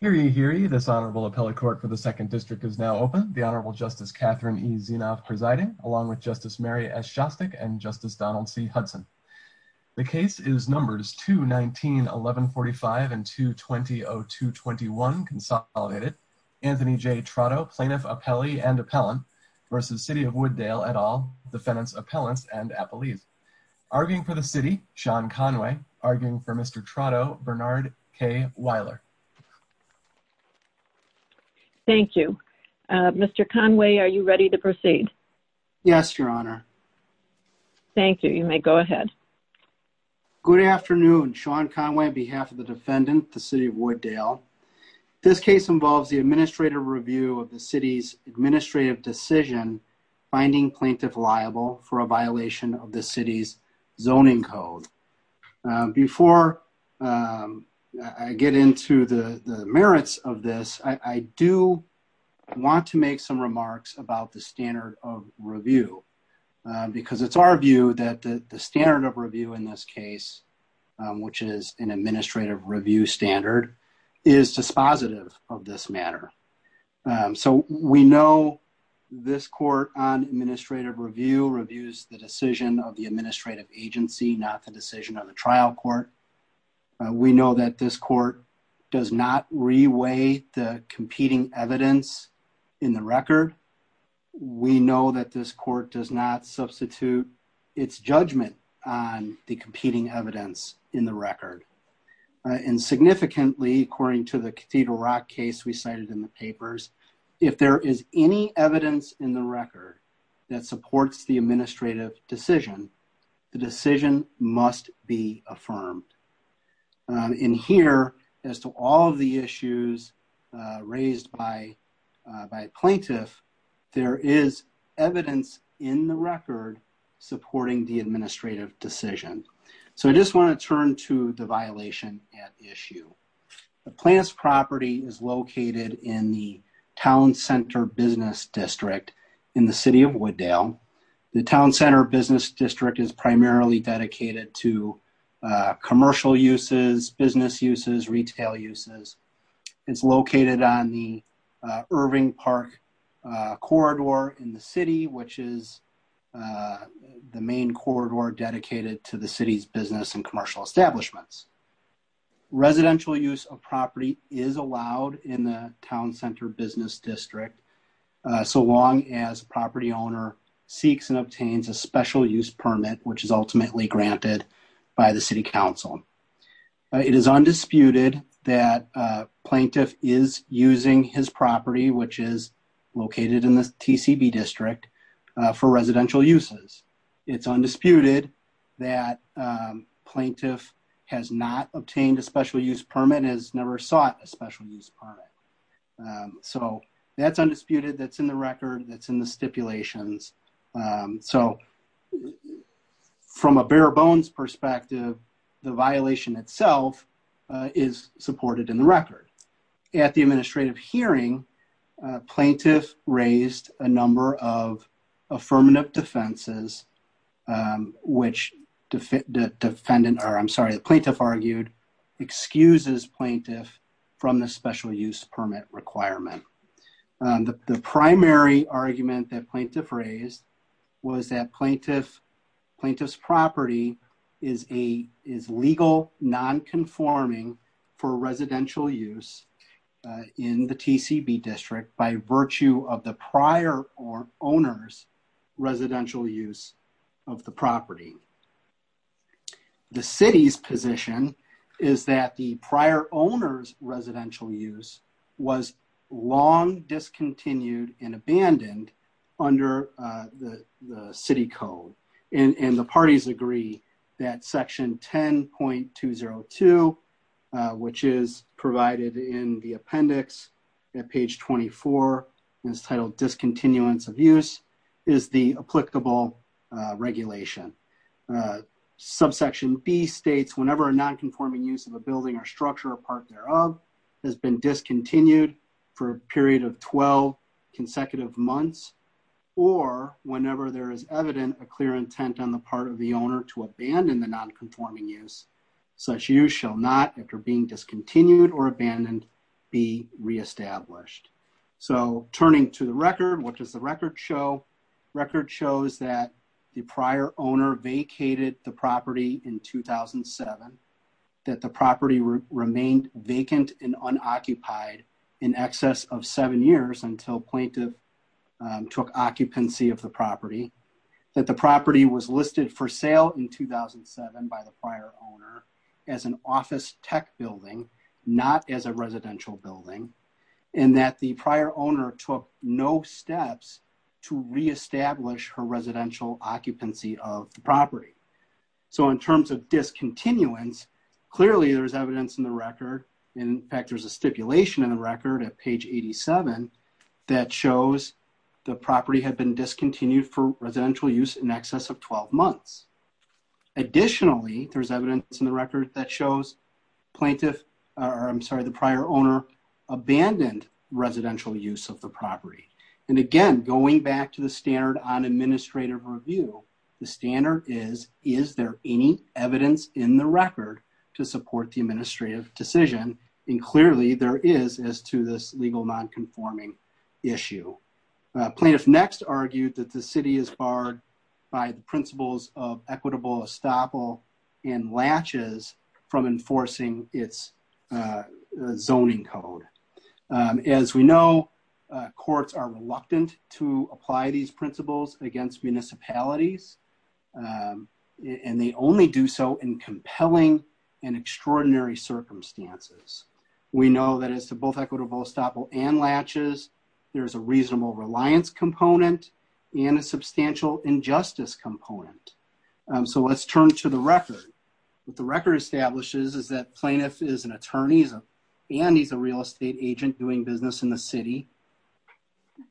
Hear ye, hear ye. This Honorable Appellate Court for the 2nd District is now open. The Honorable Justice Catherine E. Zinoff presiding, along with Justice Mary S. Jostik and Justice Donald C. Hudson. The case is Numbers 219-1145 and 220-0221, consolidated. Anthony J. Trotto, Plaintiff, Appellee, and Appellant, versus City of Wood Dale et al., Defendants, Appellants, and Appellees. Arguing for the City, Sean Conway. Arguing for Mr. Trotto, Bernard K. Weiler. Thank you. Mr. Conway, are you ready to proceed? Yes, Your Honor. Thank you. You may go ahead. Good afternoon. Sean Conway on behalf of the Defendant, the City of Wood Dale. This case involves the administrative review of the City's administrative decision finding plaintiff liable for a violation of the City's zoning code. Before I get into the merits of this, I do want to make some remarks about the standard of review because it's our view that the standard of review in this case, which is an administrative review standard, is dispositive of this matter. So we know this court on administrative review reviews the decision of the administrative agency, not the decision of the trial court. We know that this court does not reweigh the competing evidence in the record. We know that this court does not substitute its judgment on the competing evidence in the record. And significantly, according to the Cedar Rock case we cited in the papers, if there is any evidence in the record that supports the administrative decision, the decision must be affirmed. And here, as to all of the issues raised by plaintiffs, there is evidence in the record supporting the administrative decisions. So I just want to turn to the violation at issue. The plaintiff's property is located in the Town Center Business District in the City of Wooddale. The Town Center Business District is primarily dedicated to commercial uses, business uses, retail uses. It's located on the Irving Park corridor in the city, which is the main corridor dedicated to the city's business and commercial establishments. Residential use of property is allowed in the Town Center Business District so long as the property owner seeks and obtains a special use permit, which is ultimately granted by the City Council. It is undisputed that a plaintiff is using his property, which is located in the TCB District, for residential uses. It's undisputed that a plaintiff has not obtained a special use permit and has never sought a special use permit. So that's undisputed. That's in the stipulations. So from a bare bones perspective, the violation itself is supported in the record. At the administrative hearing, plaintiffs raised a number of affirmative defenses, which the plaintiff argued excuses plaintiffs from the special use permit requirement. The primary argument that plaintiff raised was that plaintiff's property is legal non-conforming for residential use in the TCB District by virtue of the prior or owner's residential use of the property. The City's position is that the prior owner's residential use was long discontinued and abandoned under the City Code. And the parties agree that section 10.202, which is provided in the appendix at page 24, is titled discontinuance of use, is the applicable regulation. Subsection B states whenever a non-conforming use of a building or structure or part thereof has been discontinued for a period of 12 consecutive months or whenever there is evident a clear intent on the part of the owner to abandon the non-conforming use, such use shall not, after being discontinued or abandoned, be re-established. So turning to the record, which is the record show, record shows that the prior owner vacated the property in 2007, that the property remained vacant and unoccupied in excess of seven years until plaintiff took occupancy of the property, that the property was listed for sale in 2007 by the prior owner as an office tech building, not as a residential building, and that the prior owner took no steps to re-establish her residential occupancy of the property. So in terms of discontinuance, clearly there's evidence in the record, in fact there's a stipulation in the record at page 87, that shows the property had been discontinued for residential use in excess of 12 months. Additionally, there's evidence in the record that shows plaintiff, or I'm sorry, the prior owner abandoned residential use of the property. And again, going back to the standard on administrative review, the standard is, is there any evidence in the record to support the administrative decision? And clearly there is as to this legal non-conforming issue. Plaintiff next argued that the As we know, courts are reluctant to apply these principles against municipalities, and they only do so in compelling and extraordinary circumstances. We know that as to both equitable estoppel and latches, there's a reasonable reliance component and a substantial injustice component. So let's turn to the record. What the record establishes is that plaintiff is an attorney and he's a real estate agent doing business in the city.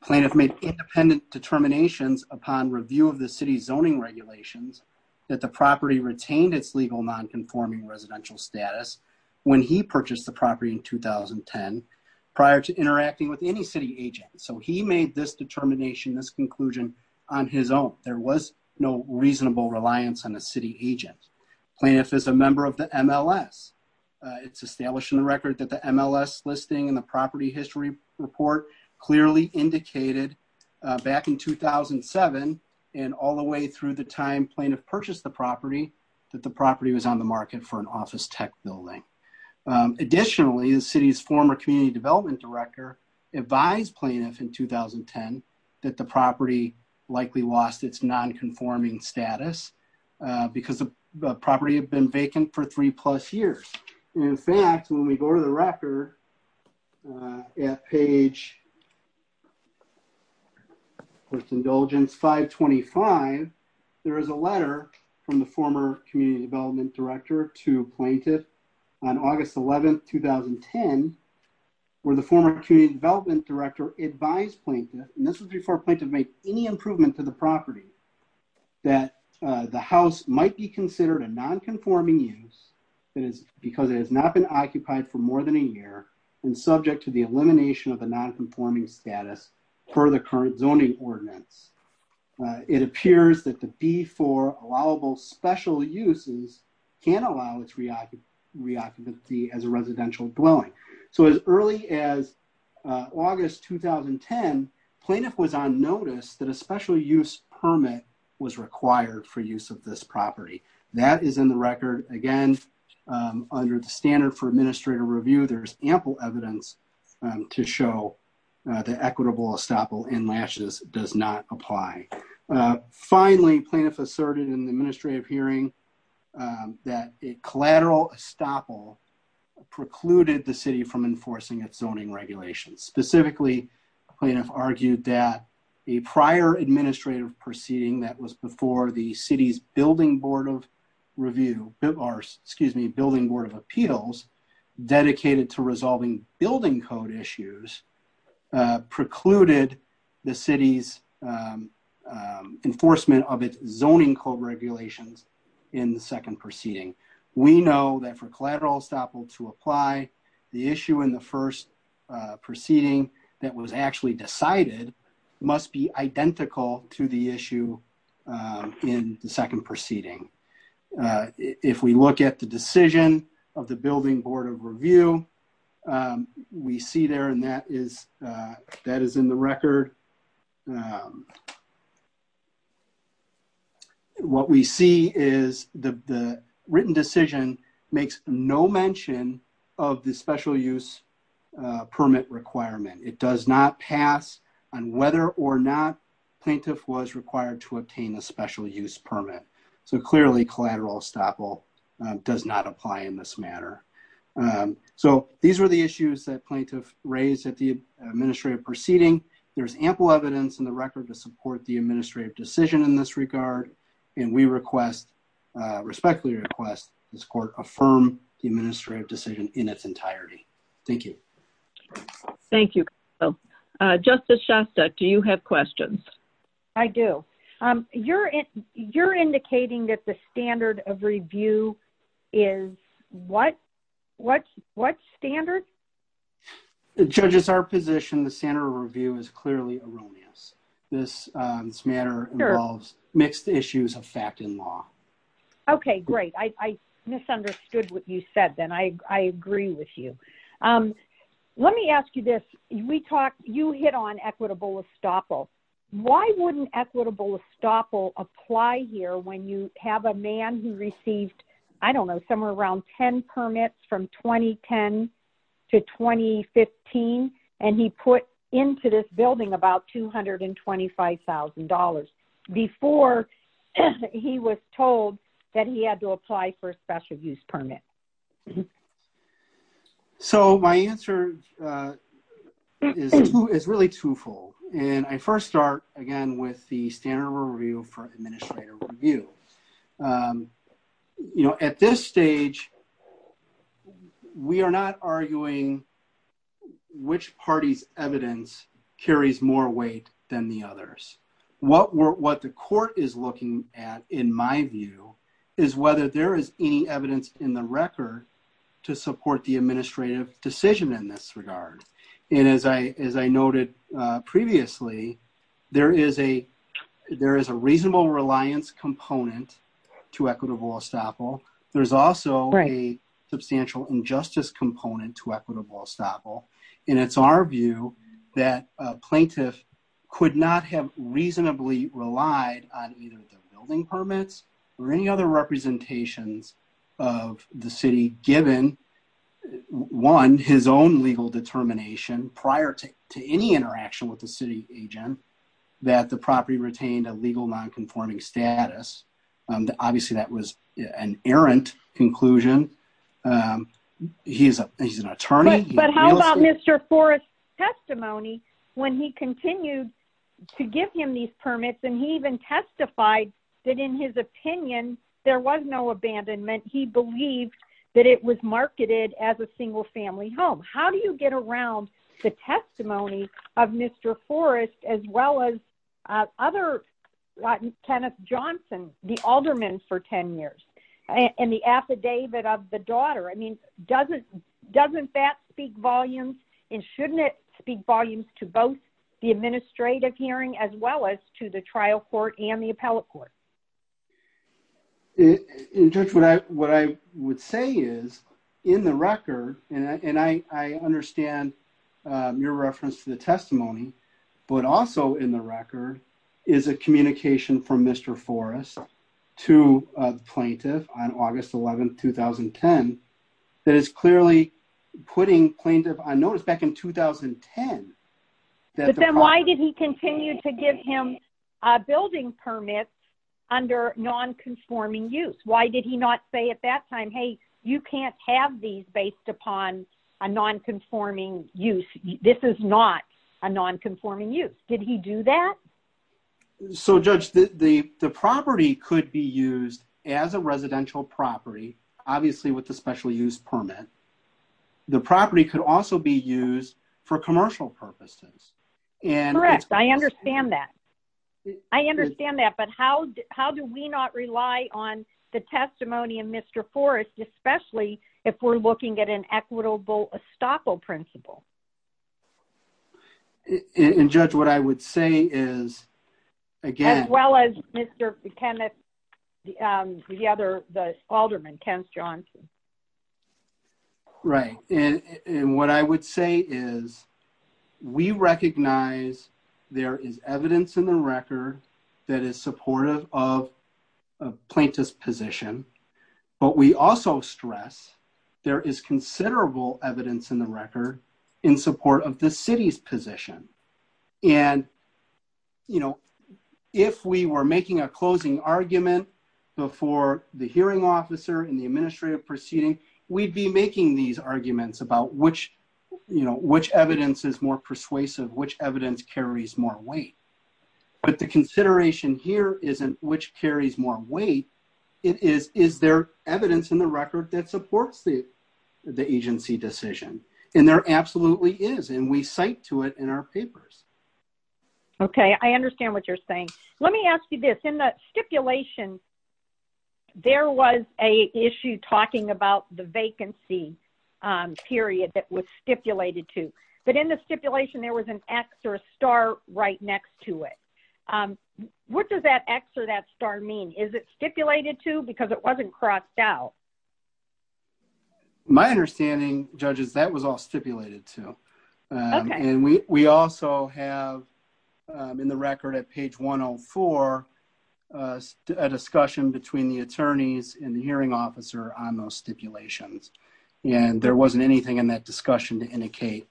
Plaintiff made independent determinations upon review of the city zoning regulations that the property retained its legal non-conforming residential status when he purchased the property in 2010, prior to interacting with any city agent. So he made this determination, this conclusion on his own. There was no reasonable reliance on the MLS. It's established in the record that the MLS listing and the property history report clearly indicated back in 2007 and all the way through the time plaintiff purchased the property, that the property was on the market for an office tech building. Additionally, the city's former community development director advised plaintiff in 2010 that the property likely lost its non-conforming status because the property had been vacant for three plus years. In fact, when we go to the record at page, first indulgence 525, there is a letter from the former community development director to plaintiff on August 11th, 2010, where the former community development director advised plaintiff, and this was before plaintiff made any improvement to the property, that the house might be considered a non-conforming use because it has not been occupied for more than a year and subject to the elimination of the non-conforming status per the current zoning ordinance. It appears that the B-4 allowable special uses can allow its reoccupancy as a property. In August 2010, plaintiff was on notice that a special use permit was required for use of this property. That is in the record. Again, under the standard for administrative review, there is ample evidence to show the equitable estoppel and matches does not apply. Finally, plaintiff asserted in the administrative hearing that a collateral estoppel precluded the city from enforcing its zoning regulations. Specifically, plaintiff argued that a prior administrative proceeding that was before the city's building board of review, excuse me, building board of appeals dedicated to resolving building code issues precluded the city's enforcement of its zoning code regulations in the second proceeding. We know that for collateral estoppel to apply, the issue in the first proceeding that was actually decided must be identical to the issue in the second proceeding. If we look at the decision of the building board of review, we see there, and that is in the record, what we see is the written decision makes no mention of the special use permit requirement. It does not pass on whether or not plaintiff was required to obtain a special use permit. Clearly, collateral estoppel does not apply in this matter. These were the issues that administrative proceeding. There is ample evidence in the record to support the administrative decision in this regard. We respectfully request this court affirm the administrative decision in its entirety. Thank you. Thank you. Justice Shasta, do you have questions? I do. You are indicating that the standard of review is what standard? The judge's position, the standard of review is clearly erroneous. This matter involves mixed issues of fact and law. Okay. Great. I misunderstood what you said. I agree with you. Let me ask you this. You hit on equitable estoppel. Why wouldn't equitable estoppel apply here when you have a man who received, I don't know, somewhere around 10 permits from 2010 to 2015 and he put into this building about $225,000 before he was told that he had to apply for a special use permit? My answer is really twofold. I first start again with the standard for administrative review. At this stage, we are not arguing which party's evidence carries more weight than the others. What the court is looking at, in my view, is whether there is any evidence in the record to support the administrative decision in this regard. As I noted previously, there is a reasonable reliance component to equitable estoppel. There is also a substantial injustice component to equitable estoppel. It is our view that a plaintiff could not have reasonably relied on either the building permits or any other representations of the city given, one, his own legal determination prior to any interaction with the city agent that the property retained a legal nonconforming status. Obviously, that was an errant conclusion. He is an attorney. How about Mr. Forrest's testimony when he continued to give him these marketed as a single family home? How do you get around the testimony of Mr. Forrest as well as other, like Kenneth Johnson, the alderman for 10 years, and the affidavit of the daughter? Doesn't that speak volumes and shouldn't it speak volumes to both the administrative hearing as well as to the trial court and the appellate court? What I would say is, in the record, and I understand your reference to the testimony, but also in the record is a communication from Mr. Forrest to a plaintiff on August 11, 2010, that is clearly putting plaintiff on notice back in 2010. Then why did he continue to give him a building permit under nonconforming use? Why did he not say at that time, hey, you can't have these based upon a nonconforming use. This is not a nonconforming use. Did he do that? Judge, the property could be used as a residential property, obviously with a special use permit. The property could also be used for commercial purposes. Correct. I understand that. I understand that, but how do we not rely on the testimony of Mr. Forrest, especially if we're looking at an equitable estoppel principle? Judge, what I would say is, again- As well as Mr. McKenna, the other, the alderman, Ken Johnson. Right. What I would say is, we recognize there is evidence in the record that is supportive of a plaintiff's position, but we also stress there is considerable evidence in record in support of the city's position. If we were making a closing argument before the hearing officer and the administrative proceeding, we'd be making these arguments about which evidence is more persuasive, which evidence carries more weight. But the consideration here isn't which carries more weight. It is, is there evidence in the record? There absolutely is, and we cite to it in our papers. Okay. I understand what you're saying. Let me ask you this. In the stipulation, there was an issue talking about the vacancy period that was stipulated to, but in the stipulation, there was an X or a star right next to it. What does that X or that star mean? Is it stipulated to because it wasn't crossed out? My understanding, judges, that was all stipulated to. And we also have in the record at page 104, a discussion between the attorneys and the hearing officer on those stipulations. And there wasn't anything in that discussion to indicate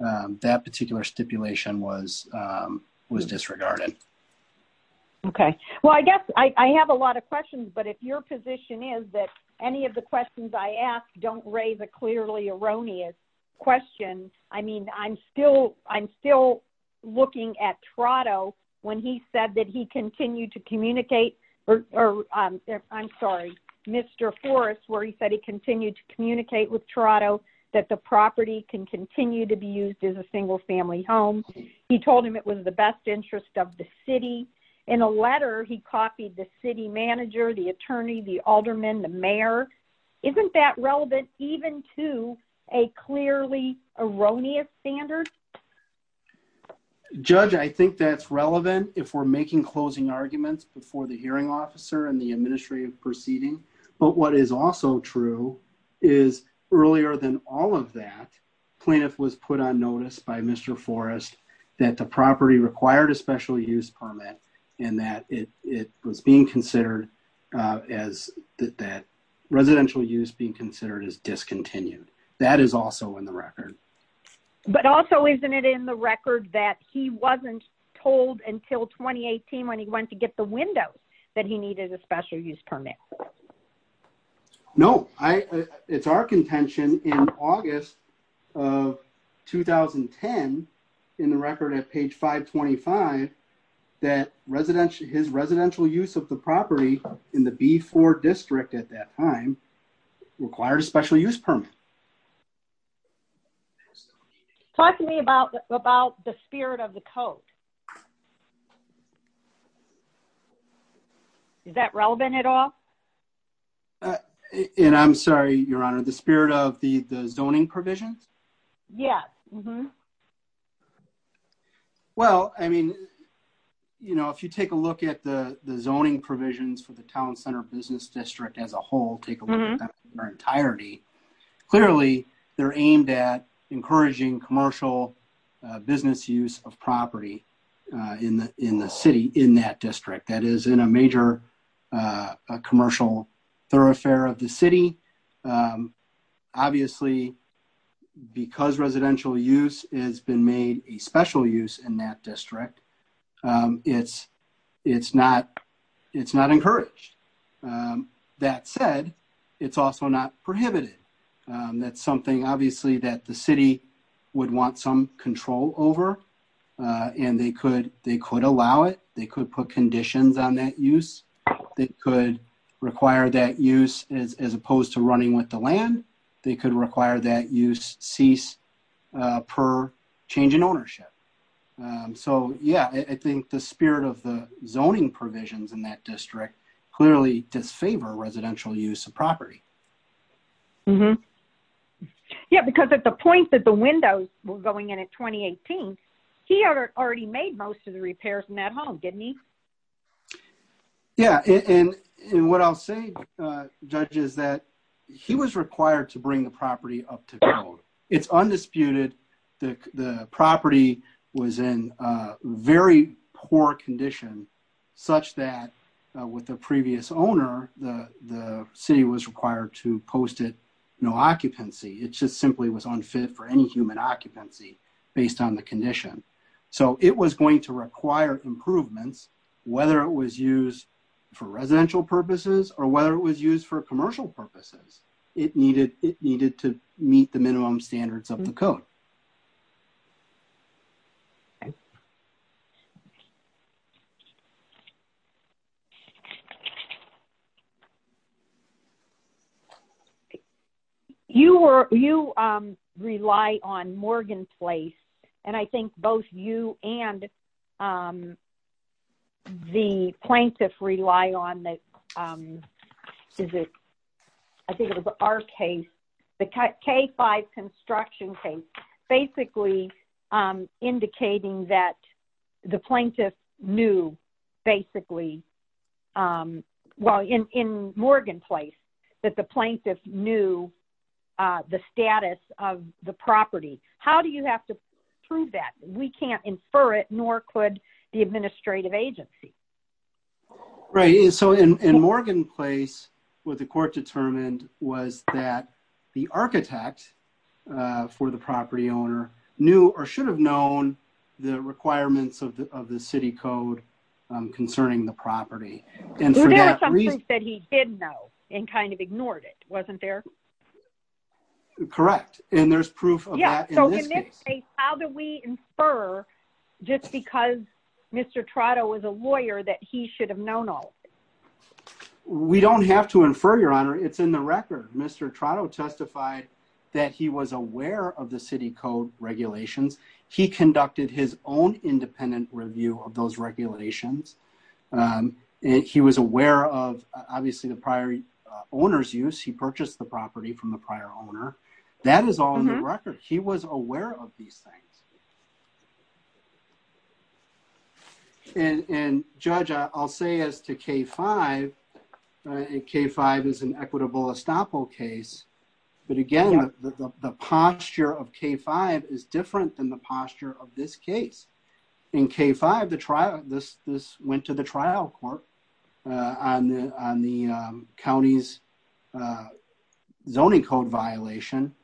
that particular stipulation was disregarded. Okay. Well, I guess I have a lot of questions, but if your position is that any of the questions I ask don't raise a clearly erroneous question, I mean, I'm still, I'm still looking at Toronto when he said that he continued to communicate, or I'm sorry, Mr. Forrest, where he said he continued to communicate with Toronto that the property can continue to be used as a single family home. He told him it was the interest of the city. In a letter, he copied the city manager, the attorney, the alderman, the mayor. Isn't that relevant even to a clearly erroneous standard? Judge, I think that's relevant if we're making closing arguments before the hearing officer and the administrative proceeding. But what is also true is earlier than all of that, plaintiff was put on notice by Mr. Forrest that the property required a special use permit and that it was being considered as, that residential use being considered as discontinued. That is also in the record. But also isn't it in the record that he wasn't told until 2018 when he went to get the 2010 in the record at page 525 that his residential use of the property in the B4 district at that time required a special use permit? Talk to me about the spirit of the code. Is that relevant at all? And I'm sorry, Your Honor, the spirit of the zoning provision? Yeah. Well, I mean, you know, if you take a look at the zoning provisions for the town center business district as a whole, take a look at that in their entirety, clearly they're aimed at encouraging commercial business use of property in the city in that district. That is in a major commercial thoroughfare of the city. Obviously, because residential use has been made a special use in that district, it's not encouraged. That said, it's also not prohibited. That's something, obviously, that the city would want some control over. And they could allow it. They could put conditions on that use that could require that use as opposed to running with the land. They could require that use cease per change in ownership. So, yeah, I think the spirit of the zoning provisions in that district clearly disfavor residential use of property. Yeah, because at the point that the windows were going in at 2018, he already made most of the repairs in that home, didn't he? Yeah, and what I'll say, Judge, is that he was required to bring the property up to code. It's undisputed that the property was in very poor condition such that with the previous owner, the city was required to post it no occupancy. It just simply was unfit for any human occupancy based on the condition. So, it was going to require improvements whether it was used for residential purposes or whether it was used for commercial purposes. It needed to meet the minimum standards of the code. Okay. You rely on Morgan Place, and I think both you and the plaintiff rely on this. I think it was our case, the K-5 construction case, basically indicating that the plaintiff knew basically, well, in Morgan Place, that the plaintiff knew the status of the property. How do you have to prove that? We can't infer it, nor could the administrative agency. Right. So, in Morgan Place, what the court determined was that the architect for the property owner knew or should have known the requirements of the city code concerning the property. There was some proof that he did know and kind of ignored it, wasn't there? Correct, and there's proof of that in this case. How do we infer just because Mr. Trotto was a lawyer that he should have known all of it? We don't have to infer, Your Honor. It's in the record. Mr. Trotto testified that he was aware of the city code regulations. He conducted his own independent review of those regulations. He was aware of, obviously, the prior owner's use. He purchased the property from the prior owner. That is all in the record. He was aware of these things. And, Judge, I'll say as to K-5, K-5 is an equitable estoppel case, but again, the posture of K-5 is different than the posture of this case. In K-5, this went to trial court on the county's zoning code violation,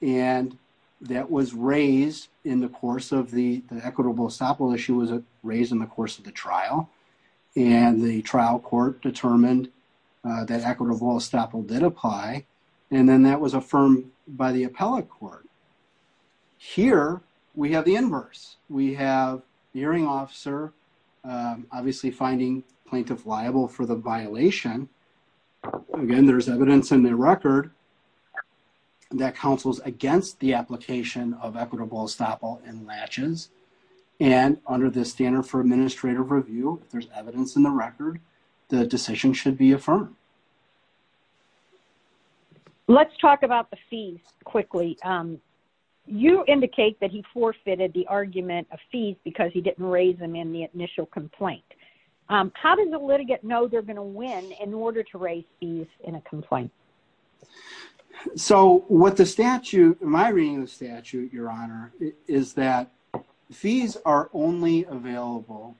and that was raised in the course of the equitable estoppel issue. It was raised in the course of the trial, and the trial court determined that equitable estoppel did apply, and then that was affirmed by the appellate court. Here, we have the inverse. We have the hearing officer, obviously, finding plaintiff liable for the violation. Again, there's evidence in the record that counsels against the application of equitable estoppel and matches, and under the standard for administrative review, there's evidence in the record that a decision should be affirmed. Let's talk about the fees quickly. You indicate that he forfeited the argument of fees because he didn't raise them in the initial complaint. How does the litigant know they're going to win in order to raise fees in a complaint? So what the statute, my reading of the statute, Your Honor, is that fees are only available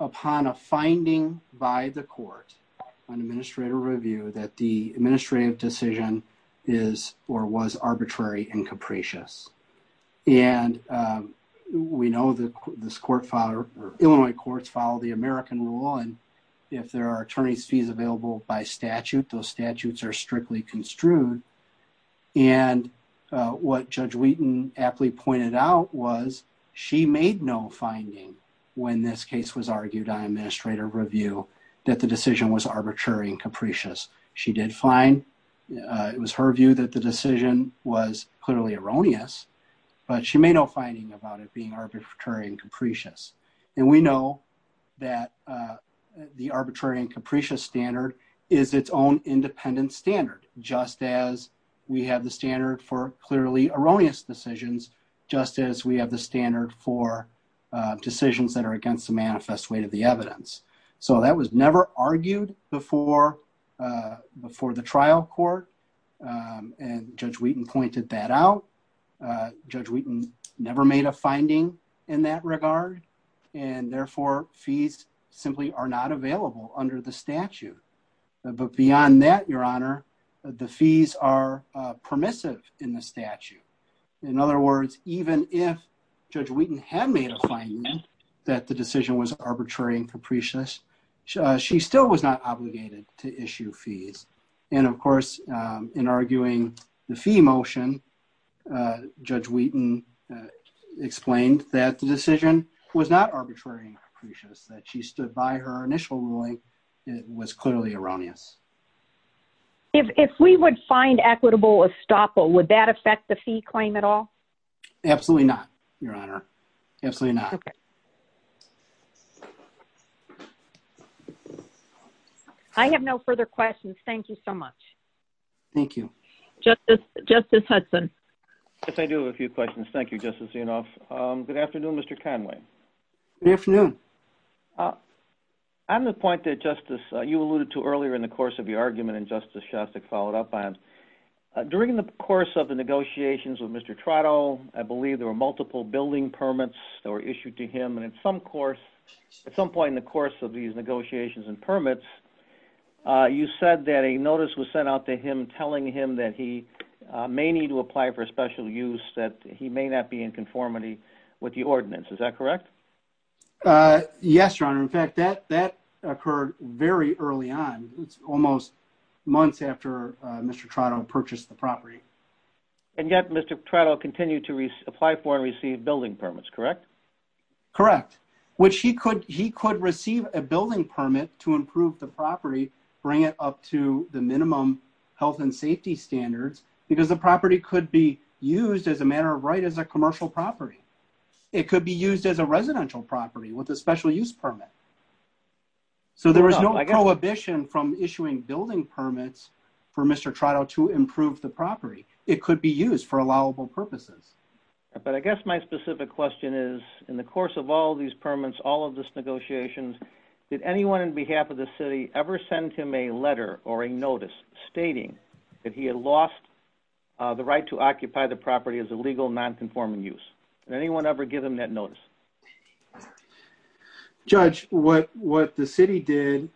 upon a finding by the court on administrative review that the administrative decision is or was arbitrary and capricious. We know that Illinois courts follow the American rule, and if there are attorney's fees available by statute, those statutes are forfeited. So what the litigant did find out was she made no finding when this case was argued on administrative review that the decision was arbitrary and capricious. She did find it was her view that the decision was clearly erroneous, but she made no finding about it being arbitrary and capricious. And we know that the arbitrary and capricious standard is its own independent standard, just as we have the standard for clearly erroneous decisions, just as we have the standard for decisions that are against the manifest way of the evidence. So that was never argued before the trial court, and Judge Wheaton pointed that out. Judge Wheaton never made a finding in that regard, and therefore fees simply are not available under the statute. But beyond that, Your Honor, the fees are permissive in the statute. In other words, even if Judge Wheaton had made a finding that the decision was arbitrary and capricious, she still was not obligated to issue fees. And of course, in arguing the fee motion, Judge Wheaton explained that the decision was not arbitrary and capricious, that she stood by her views. If we would find equitable estoppel, would that affect the fee claim at all? Absolutely not, Your Honor. Absolutely not. I have no further questions. Thank you so much. Thank you. Justice Hudson. Yes, I do have a few questions. Thank you, Justice Inhofe. Good afternoon, Mr. Conway. Good afternoon. On the point that, Justice, you alluded to earlier in the course of the argument, and Justice Chastok followed up on, during the course of the negotiations with Mr. Trotto, I believe there were multiple building permits that were issued to him, and at some course, at some point in the course of these negotiations and permits, you said that a notice was sent out to him telling him that he may need to apply for special use, that he may not be in conformity with the ordinance. Is that correct? Yes, Your Honor. In fact, that occurred very early on, almost months after Mr. Trotto purchased the property. And yet, Mr. Trotto continued to apply for and receive building permits, correct? Correct, which he could receive a building permit to improve the property, bring it up to the minimum health and safety standards, because the property could be used as a residential property with a special use permit. So there was no prohibition from issuing building permits for Mr. Trotto to improve the property. It could be used for allowable purposes. But I guess my specific question is, in the course of all these permits, all of these negotiations, did anyone on behalf of the city ever send him a letter or a notice stating that he lost the right to occupy the property as a legal non-conforming use? Did anyone ever give him that notice? Judge, what the city did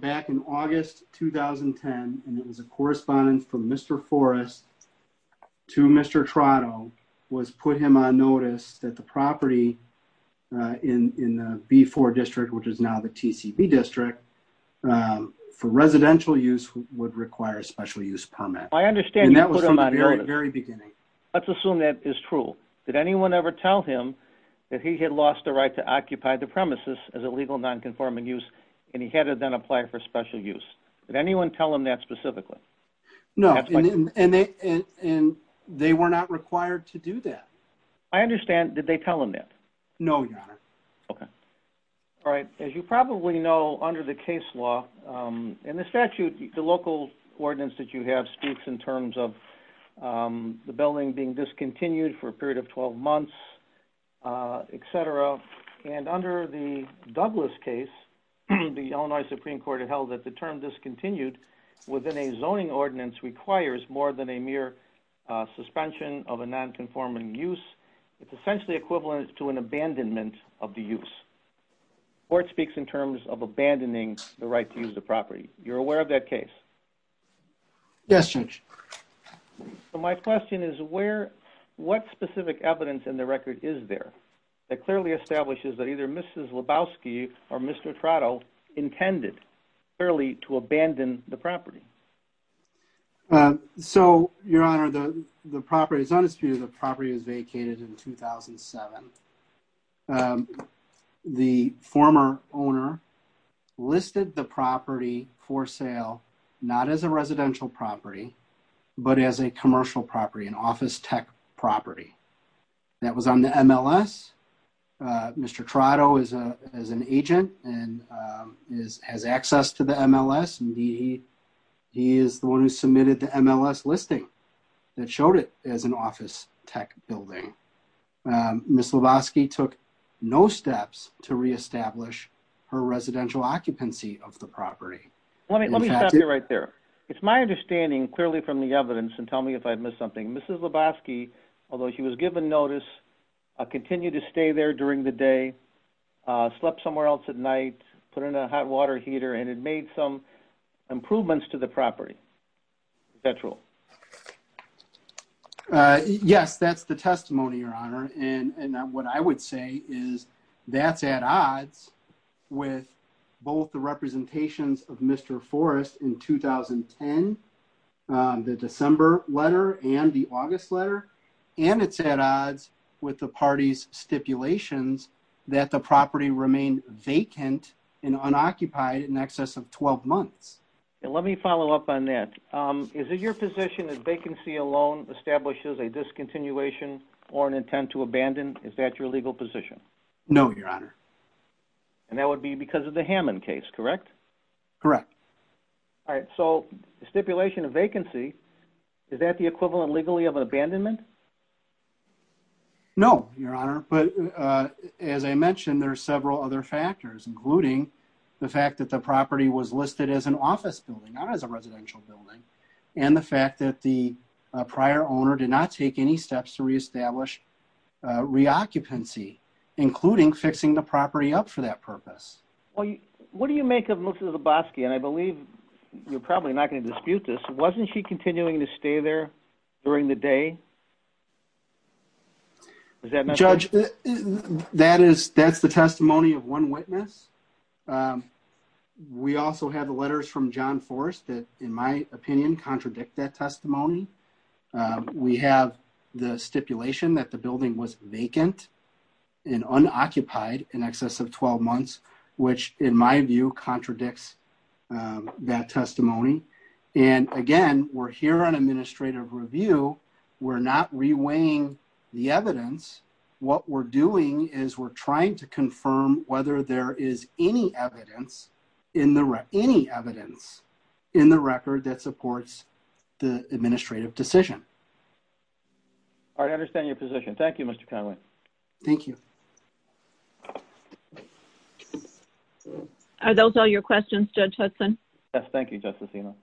back in August 2010, and it was a correspondence from Mr. Forrest to Mr. Trotto, was put him on notice that the property in the B4 district, which is now the And that was from the very beginning. Let's assume that is true. Did anyone ever tell him that he had lost the right to occupy the premises as a legal non-conforming use, and he had to then apply for special use? Did anyone tell him that specifically? No, and they were not required to do that. I understand. Did they tell him that? No, Your Honor. Okay. All right. As you probably know, the case law and the statute, the local ordinance that you have speaks in terms of the building being discontinued for a period of 12 months, etc. And under the Douglas case, the Illinois Supreme Court held that the term discontinued within a zoning ordinance requires more than a mere suspension of a non-conforming use. It's essentially equivalent to an abandonment of the use. The court speaks in terms of abandoning the right to use the property. You're aware of that case? Yes, Your Honor. So my question is, what specific evidence in the record is there that clearly establishes that either Mrs. Lebowski or Mr. Trotto intended clearly to abandon the property? So, Your Honor, the property is unconstituted. The property was vacated in 2007. The former owner listed the property for sale not as a residential property, but as a commercial property, an office tech property. That was on the MLS. Mr. Trotto is as an agent and has access to the MLS. He is the one who submitted the MLS listing that showed it as an office tech building. Mrs. Lebowski took no steps to reestablish her residential occupancy of the property. Let me stop you right there. It's my understanding clearly from the evidence, and tell me if I've missed something. Mrs. Lebowski, although she was given notice, continued to stay there during the day, slept somewhere else at night, put in a hot water heater, and had made some improvements to the property. Is that true? Yes, that's the testimony, Your Honor. And what I would say is that's at odds with both the representations of Mr. Forrest in 2010, the December letter and the August letter, and it's at odds with the party's stipulations that the property remained vacant and unoccupied in excess of 12 months. Let me follow up on that. Is it your position that vacancy alone establishes a discontinuation or an intent to abandon? Is that your legal position? No, Your Honor. And that would be because of the Hammond case, correct? Correct. All right, so the stipulation of vacancy, is that the equivalent legally of abandonment? No, Your Honor, but as I mentioned, there are several other factors, including the fact that the property was listed as an office building, not as a residential building, and the fact that prior owner did not take any steps to reestablish reoccupancy, including fixing the property up for that purpose. What do you make of Mr. Zabosky? And I believe you're probably not going to dispute this. Wasn't she continuing to stay there during the day? Judge, that's the testimony of one witness. We also have letters from John Forrest that, in my opinion, contradict that testimony. We have the stipulation that the building was vacant and unoccupied in excess of 12 months, which, in my view, contradicts that testimony. And again, we're here on administrative review. We're not reweighing the evidence. What we're doing is we're trying to confirm whether there is any evidence in the record that supports the administrative decision. I understand your position. Thank you, Mr. Conway. Thank you. Are those all your questions, Judge Hudson? Yes, thank you, Justice Eno.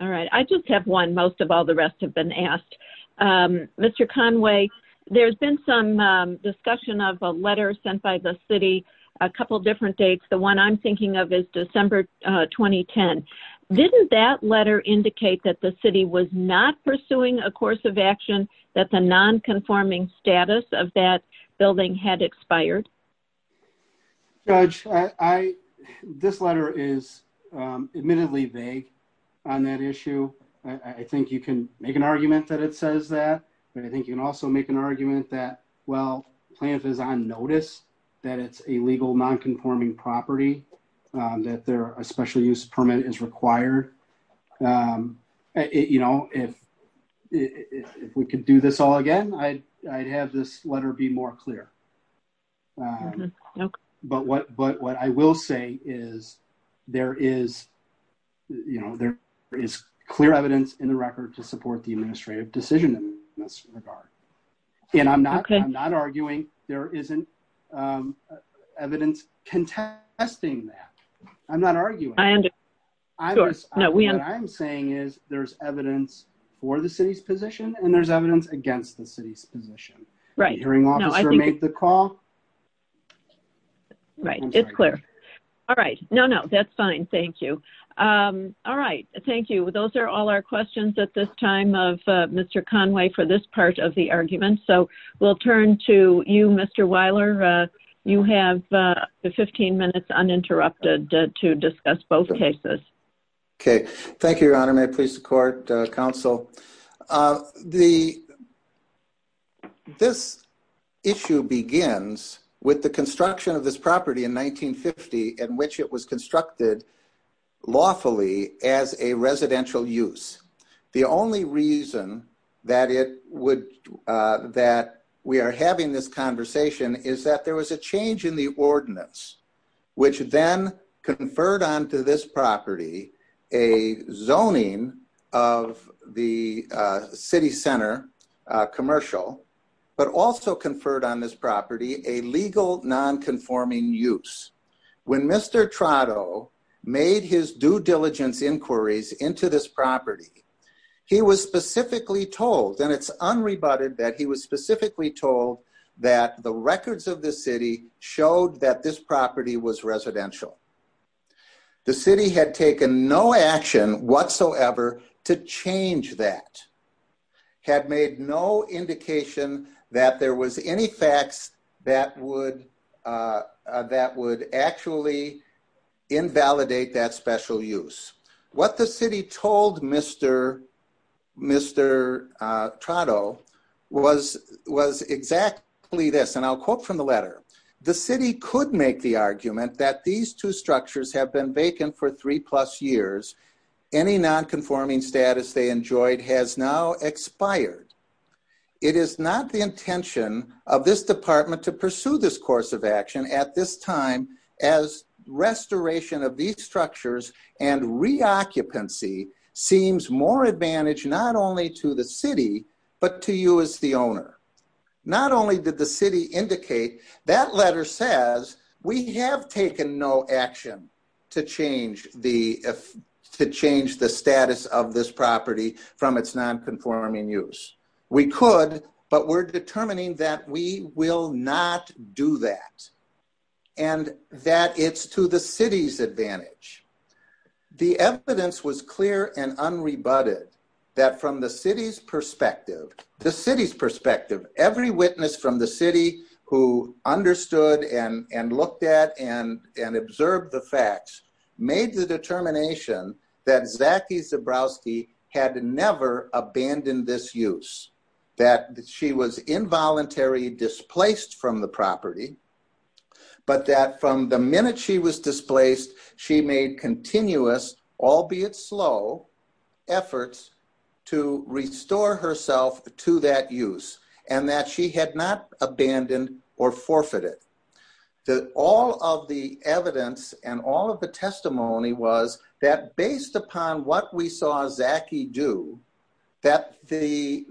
All right. I just have one. Most of all the rest have been asked. Mr. Conway, there's been some discussion of a letter sent by the city, a couple different dates. The one I'm thinking of is December 2010. Didn't that letter indicate that the city was not pursuing a course of action, that the nonconforming status of that building had expired? Judge, this letter is admittedly vague on that issue. I think you can make an argument that it legal nonconforming property, that a special use permit is required. If we could do this all again, I'd have this letter be more clear. But what I will say is there is clear evidence in the record to support the administrative decision in this regard. And I'm not arguing there isn't evidence contesting that. I'm not arguing. What I'm saying is there's evidence for the city's position and there's evidence against the city's position. Hearing officer, make the call. Right. It's clear. All right. No, no. That's fine. Thank you. All right. Thank you. Those are all our questions at this time of Mr. Conway for this part of the argument. So we'll turn to you, Mr. Weiler. You have 15 minutes uninterrupted to discuss both cases. Okay. Thank you, Your Honor. May it please the court, counsel. This issue begins with the construction of this property in 1950 in which it was constructed lawfully as a residential use. The only reason that we are having this conversation is that there was a change in the ordinance which then conferred on to this property a zoning of the city center commercial, but also conferred on this property a legal nonconforming use. When Mr. Trotto made his due diligence inquiries into this property, he was specifically told, and it's unrebutted that he was specifically told that the records of the city showed that this property was residential. The city had taken no action whatsoever to change that, had made no indication that there was any facts that would actually invalidate that special use. What the city told Mr. Trotto was exactly this, and I'll quote from the letter. The city could make the argument that these two structures have been vacant for three plus years, any nonconforming status they enjoyed has now expired. It is not the intention of this department to pursue this course of action at this time as restoration of these structures and reoccupancy seems more advantage not only to the city, but to you as the owner. Not only did the city indicate that letter says we have taken no action to change the status of this property from its nonconforming use. We could, but we're determining that we will not do that and that it's to the city's advantage. The evidence was clear and unrebutted that from the city's perspective, the city's perspective, every witness from the city who understood and looked at and observed the facts made the determination that Zaki Zabrowski had never abandoned this use, that she was involuntarily displaced from the property, but that from the minute she was to that use and that she had not abandoned or forfeited. That all of the evidence and all of the testimony was that based upon what we saw Zaki do, that the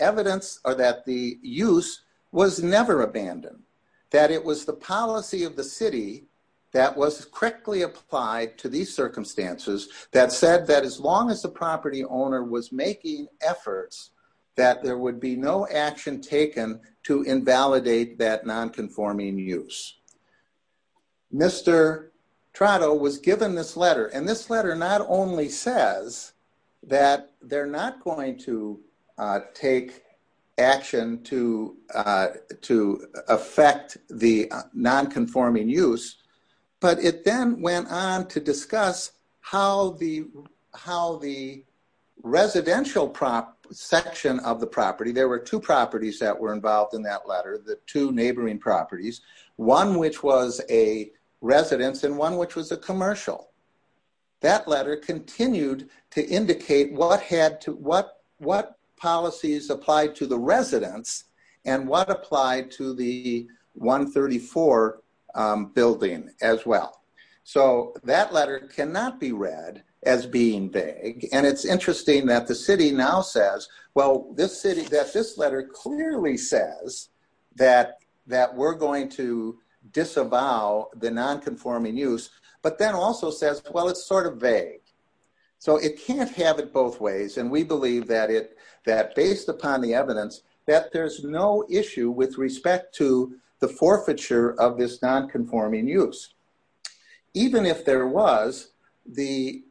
evidence or that the use was never abandoned. That it was the policy of the city that was correctly applied to these there would be no action taken to invalidate that nonconforming use. Mr. Trotto was given this letter and this letter not only says that they're not going to take action to affect the nonconforming use, but it then went on to discuss how the residential section of the property, there were two properties that were involved in that letter, the two neighboring properties, one which was a residence and one which was a commercial. That letter continued to indicate what policies applied to the residence and what applied to the 134 building as well. So that letter cannot be read as being vague and it's interesting that the city now says, well, this city that this letter clearly says that we're going to disavow the nonconforming use, but then also says, well, it's sort of vague. So it can't have it both ways and we believe that based upon the evidence that there's no issue with respect to the forfeiture of this nonconforming use. Even if there was, the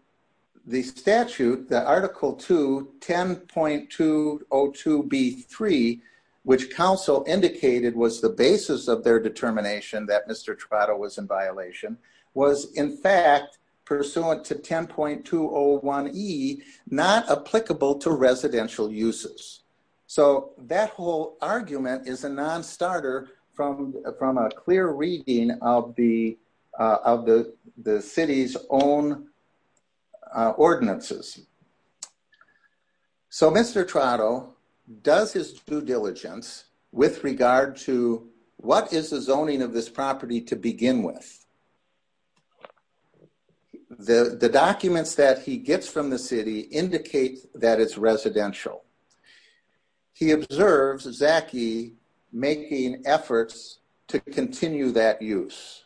statute, the article 2, 10.202B3, which council indicated was the basis of their determination that Mr. Trotto was in violation, was in fact pursuant to 10.201E, not applicable to residential uses. So that whole argument is non-starter from a clear reading of the city's own ordinances. So Mr. Trotto does his due diligence with regard to what is the zoning of this property to begin with. The documents that he gets from the city indicate that it's residential. He observes Zaki making efforts to continue that use.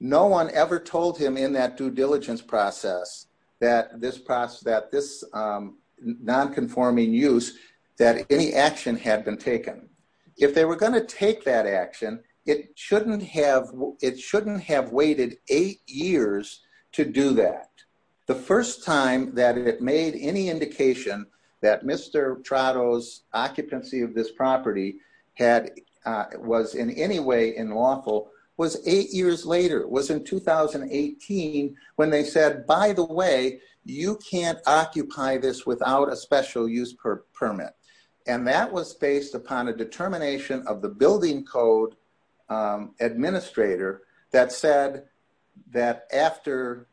No one ever told him in that due diligence process that this nonconforming use, that any action had been taken. If they were going to take that action, it shouldn't have waited eight years to do that. The first time that it made any indication that Mr. Trotto's occupancy of this property was in any way unlawful was eight years later. It was in 2018 when they said, by the way, you can't occupy this without a special use permit. And that was based upon a determination of the building code administrator that said that after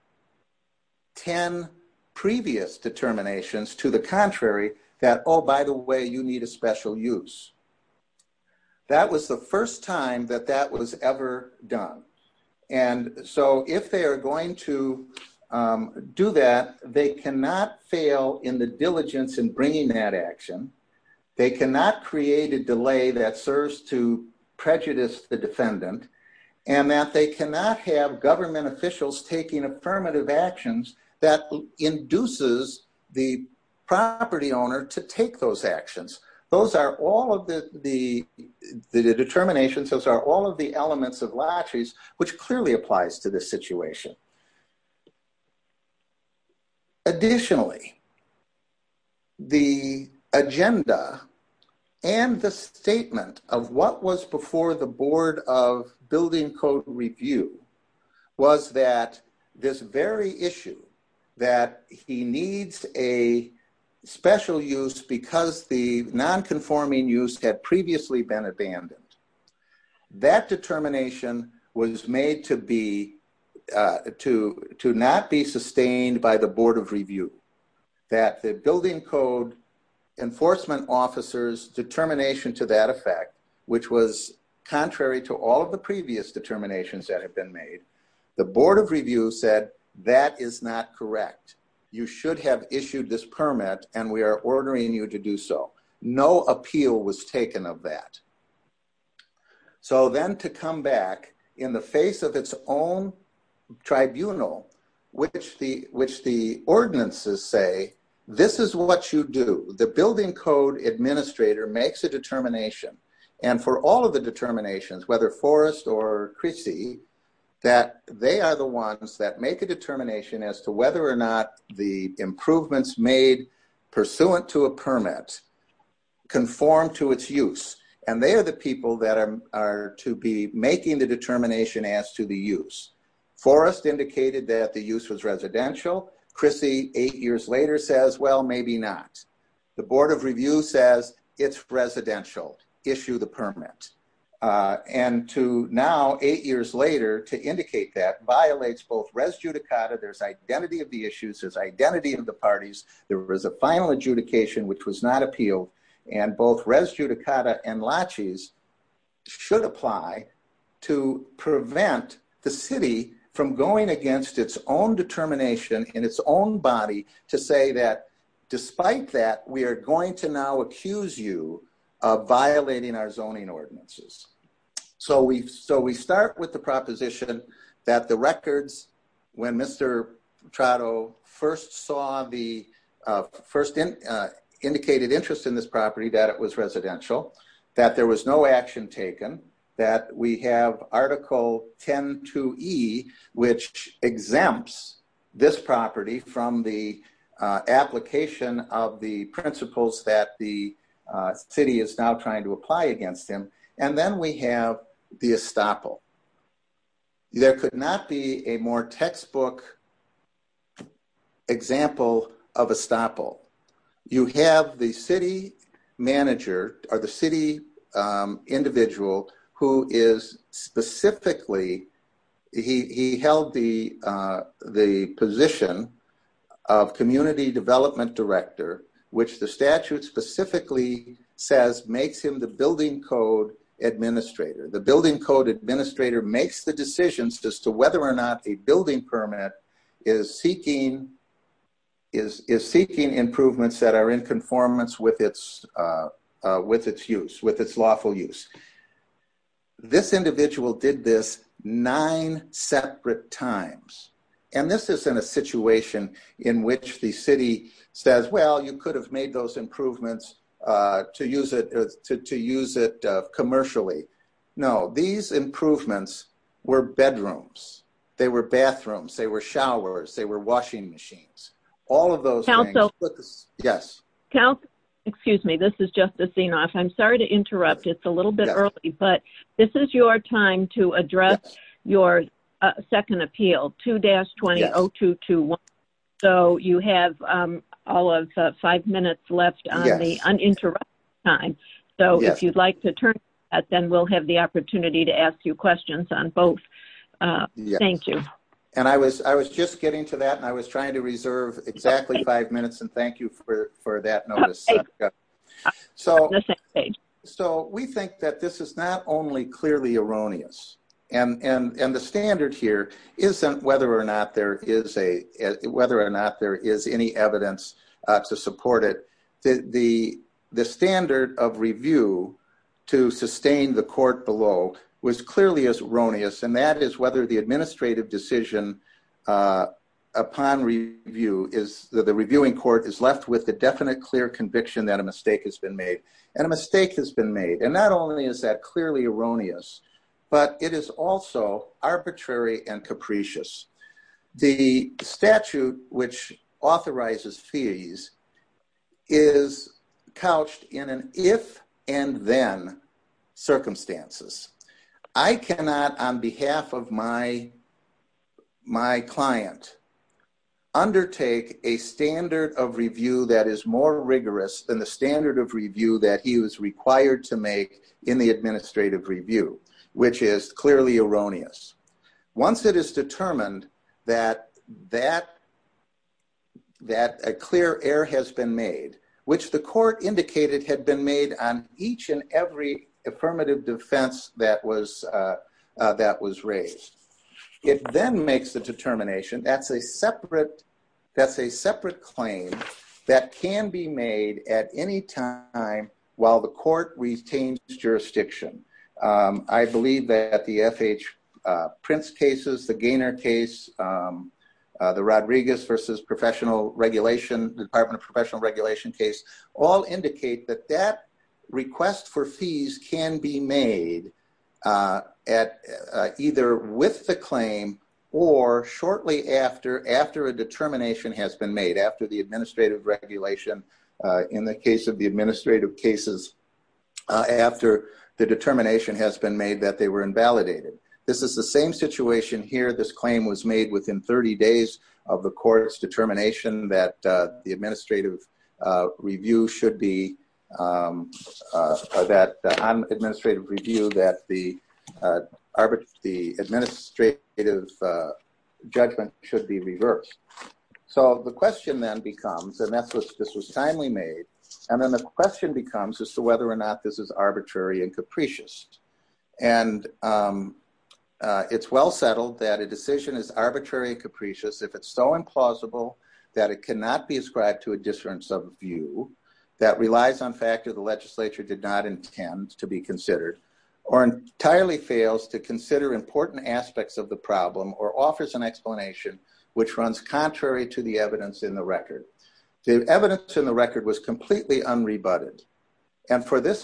10 previous determinations to the contrary, that, oh, by the way, you need a special use. That was the first time that that was ever done. And so if they are going to do that, they cannot fail in the diligence in bringing that action. They cannot create a delay that prejudice the defendant and that they cannot have government officials taking affirmative actions that induces the property owner to take those actions. Those are all of the determinations. Those are all of the elements of latches, which clearly applies to this situation. Additionally, the agenda and the statement of what was before the Board of Building Code Review was that this very issue that he needs a special use because the nonconforming use had previously been abandoned. That determination was made to be to not be sustained by the Board of Review. That the building code enforcement officers determination to that effect, which was contrary to all of the previous determinations that have been made, the Board of Review said that is not correct. You should have issued this permit and we are ordering you to do so. No appeal was taken of that. So then to come back in the face of its own tribunal, which the ordinances say, this is what you do. The building code administrator makes a determination. And for all of the determinations, whether Forrest or Christie, that they are the ones that make a determination as to whether or not the improvements made pursuant to a permit conform to its use. And they are the people that are to be making the Forrest indicated that the use was residential. Christie, eight years later, says, well, maybe not. The Board of Review says it's residential. Issue the permit. And to now, eight years later, to indicate that violates both res judicata, there's identity of the issues, there's identity of the parties. There was a final adjudication, which was not appealed. And both res judicata and latches should apply to prevent the city from going against its own determination in its own body to say that despite that, we are going to now accuse you of violating our zoning ordinances. So we start with the proposition that the records, when Mr. Trotto first saw the first indicated interest in this property, that it was residential, that there was no action taken, that we have Article 10-2E, which exempts this property from the application of the principles that the city is now trying to apply against him. And then we have the estoppel. There could not be a more textbook example of estoppel. You have the city manager or the city individual who is specifically, he held the position of community development director, which the statute specifically says makes him the building code administrator. The building code administrator makes the decisions as to whether or not a building permit is seeking improvements that are in conformance with its use, with its lawful use. This individual did this nine separate times. And this isn't a situation in which the city says, well, you could have made those improvements to use it commercially. No, these improvements were bedrooms. They were bathrooms. They were showers. They were washing machines. All of those things. Yes. Excuse me. This is Justice Zenoff. I'm sorry to interrupt. It's a little bit early, but this is your time to address your second appeal, 2-200221. So you have all of five minutes left on the uninterrupted time. So if you'd like to turn that, then we'll have the opportunity to ask you questions on both. Thank you. And I was just getting to that and I was trying to reserve exactly five minutes and thank you for that notice. So we think that this is not clearly erroneous. And the standard here isn't whether or not there is any evidence to support it. The standard of review to sustain the court below was clearly as erroneous. And that is whether the administrative decision upon review is that the reviewing court is left with the definite clear conviction that a mistake has been made. And a mistake has been made. And not only is that clearly erroneous, but it is also arbitrary and capricious. The statute which authorizes fees is couched in an if and then circumstances. I cannot on behalf of my client undertake a standard of review that is more rigorous than the standard of review that he is required to make in the administrative review, which is clearly erroneous. Once it is determined that a clear error has been made, which the court indicated had been made on each and every affirmative defense that was raised, it then makes the determination that's a separate claim that can be made at any time while the court retains jurisdiction. I believe that the F.H. Prince cases, the Gaynor case, the Rodriguez v. Department of Professional Regulation case all indicate that that request for fees can be made either with the claim or shortly after a regulation in the case of the administrative cases after the determination has been made that they were invalidated. This is the same situation here. This claim was made within 30 days of the court's determination that the administrative review should be, that on administrative review that the administrative judgment should be reversed. The question then becomes, and this was timely made, and then the question becomes as to whether or not this is arbitrary and capricious. It's well settled that a decision is arbitrary and capricious if it's so implausible that it cannot be ascribed to a disference of view that relies on fact that the legislature did not intend to be considered or entirely fails to consider important aspects of the problem or offers an explanation which runs contrary to the evidence in the record. The evidence in the record was completely unrebutted, and for this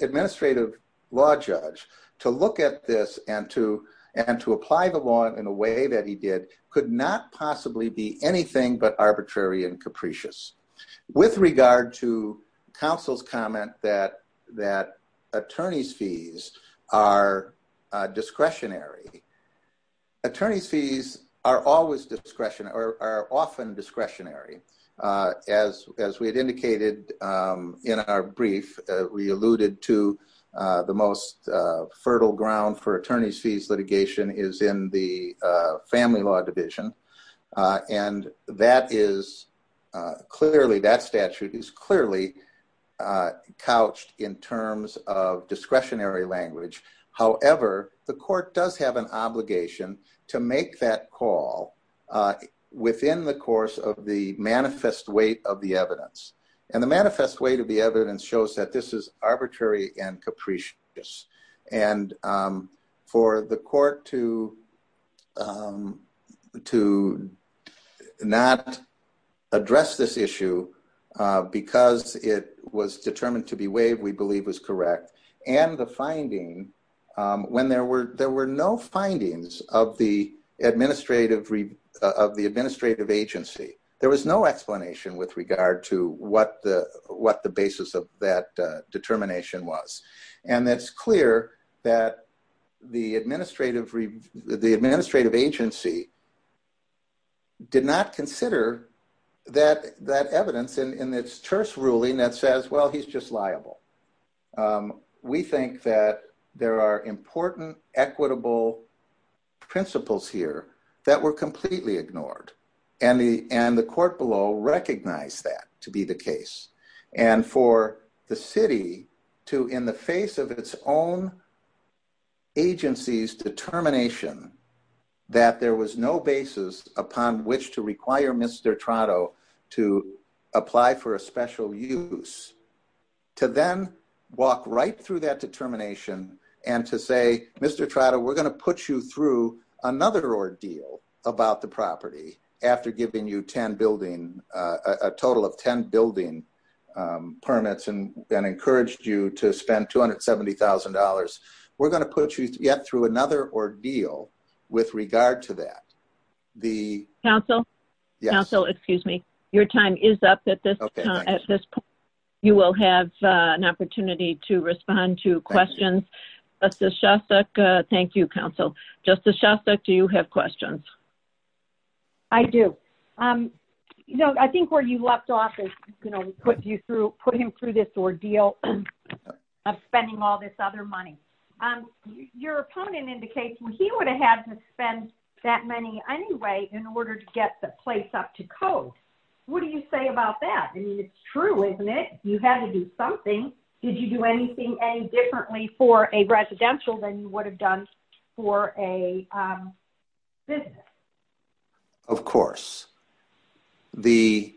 administrative law judge to look at this and to apply the law in a way that he did could not possibly be anything but arbitrary and capricious. With regard to counsel's comment that attorney's fees are discretionary, attorney's fees are always discretionary or are often discretionary. As we had indicated in our brief, we alluded to the most fertile ground for attorney's fees litigation is in the clearly that statute is clearly couched in terms of discretionary language. However, the court does have an obligation to make that call within the course of the manifest weight of the evidence, and the manifest weight of the evidence shows that this is arbitrary and addressed this issue because it was determined to be waived, we believe was correct, and the finding when there were no findings of the administrative agency. There was no explanation with regard to what the basis of that determination was, and it's clear that the administrative agency did not consider that evidence in this terse ruling that says, well, he's just liable. We think that there are important equitable principles here that were completely ignored, and the court below recognized that to be the case, and for the city to in the face of its own agency's determination that there was no basis upon which to require Mr. Trotto to apply for a special use, to then walk right through that determination and to say, Mr. Trotto, we're going to put you through another ordeal about the property after giving you a total of $270,000. We're going to put you through yet another ordeal with regard to that. Counsel, your time is up at this point. You will have an opportunity to respond to questions. Thank you, counsel. Justice Shostak, do you have questions? I do. I think where you left off is we put him through this ordeal of spending all this other money. Your opponent indicates he would have had to spend that money anyway in order to get the place up to code. What do you say about that? I mean, it's true, isn't it? You had to do something. Did you do anything any differently for a residential than you would have done for a business? Of course. The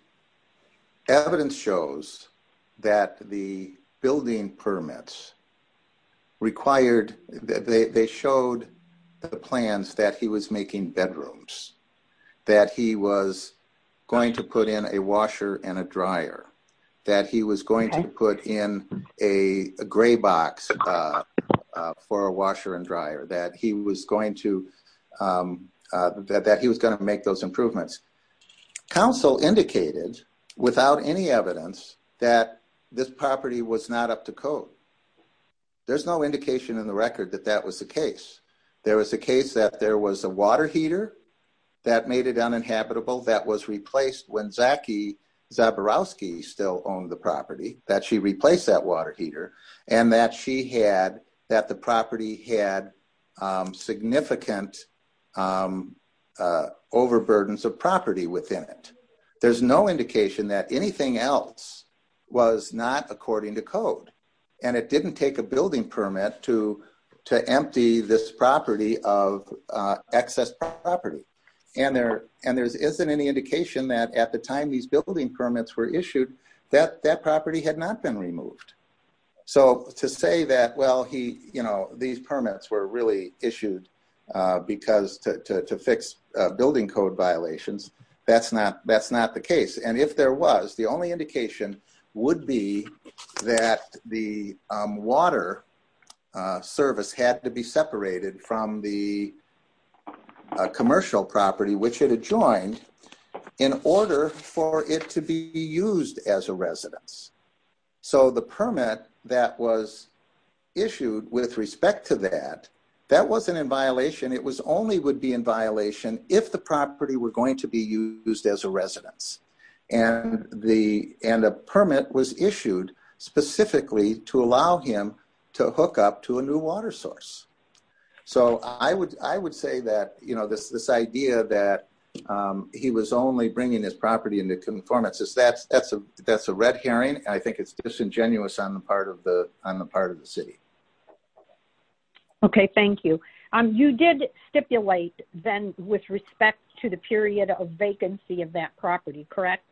evidence shows that the building permits required – they showed the plans that he was making bedrooms, that he was going to put in a washer and a dryer, that he was going to put in a gray box for a washer and dryer, that he was going to make those improvements. Counsel indicated without any evidence that this property was not up to code. There's no indication in the record that that was the case. There was a case that there was a water still owned the property, that she replaced that water heater, and that the property had significant overburden of property within it. There's no indication that anything else was not according to code. It didn't take a building permit to empty this property of excess property. And there isn't any indication that at the time these building permits were issued, that that property had not been removed. So to say that, well, these permits were really issued to fix building code violations, that's not the case. And if there was, the only indication would be that the water service had to be separated from the commercial property, which it had joined, in order for it to be used as a residence. So the permit that was issued with respect to that, that wasn't in violation. It only would be in violation if the property were going to be used as a residence. And the permit was issued specifically to allow him to hook up to a new water source. So I would say that this idea that he was only bringing his property into conformance, that's a red herring. I think it's disingenuous on the part of the city. Okay, thank you. You did stipulate then with respect to the period of vacancy of that property, correct?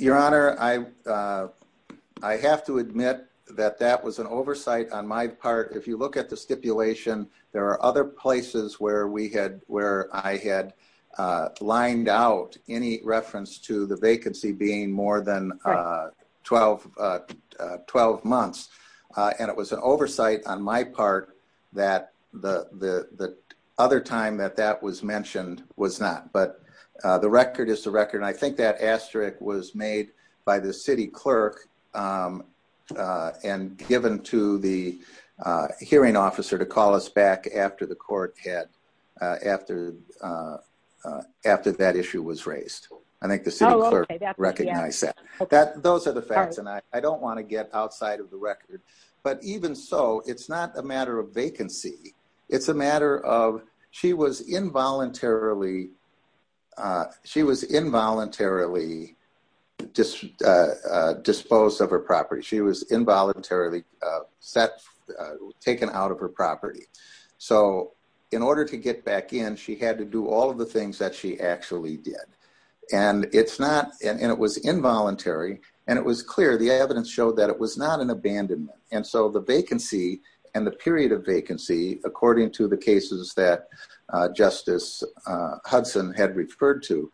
Your Honor, I have to admit that that was an oversight on my part. If you look at the stipulation, there are other places where I had lined out any reference to the vacancy being more than 12 months. And it was an oversight on my part that the other time that that was mentioned was not. But the record is the record. And I think that asterisk was made by the city clerk and given to the hearing officer to call us back after that issue was raised. I think the city clerk recognized that. Those are the facts. And I don't want to get outside of the record. But even so, it's not a matter of vacancy. It's a matter of she was involuntarily disposed of her property. She was involuntarily taken out of her property. So in order to get back in, she had to do all of the things that she actually did. And it was involuntary. And it was clear. The evidence showed that it was not an abandonment. And so the vacancy and the period of vacancy, according to the cases that Justice Hudson had referred to,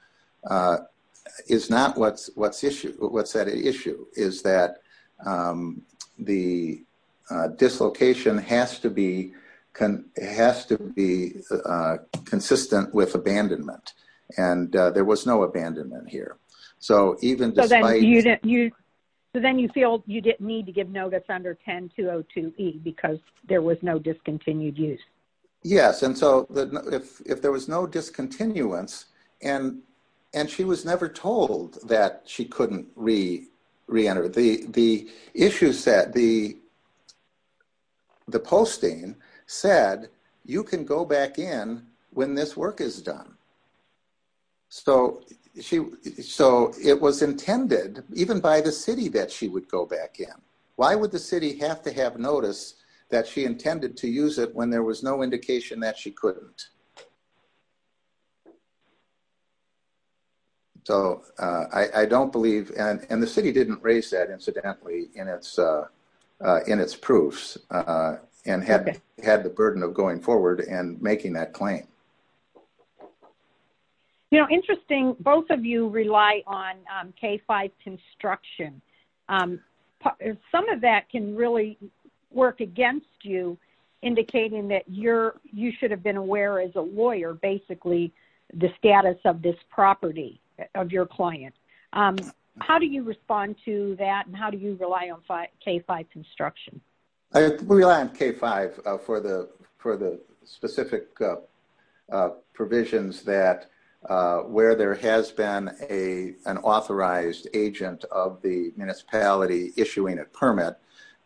is not what's at issue. Is that the dislocation has to be consistent with abandonment. And there was no abandonment here. So then you feel you didn't need to give notice under 10-202-E because there was no discontinued Yes. And so if there was no discontinuance, and she was never told that she couldn't re-enter. The issues that the posting said, you can go back in when this work is done. So it was intended even by the city that she would go back in. Why would the city have to notice that she intended to use it when there was no indication that she couldn't? So I don't believe, and the city didn't raise that incidentally in its proofs, and had the burden of going forward and making that claim. Interesting. Both of you rely on K-5 construction. Some of that can really work against you, indicating that you should have been aware as a lawyer, basically, the status of this property of your client. How do you respond to that? And how do you rely on K-5 construction? I rely on K-5 for the specific provisions that where there has been an authorized agent of the municipality issuing a permit,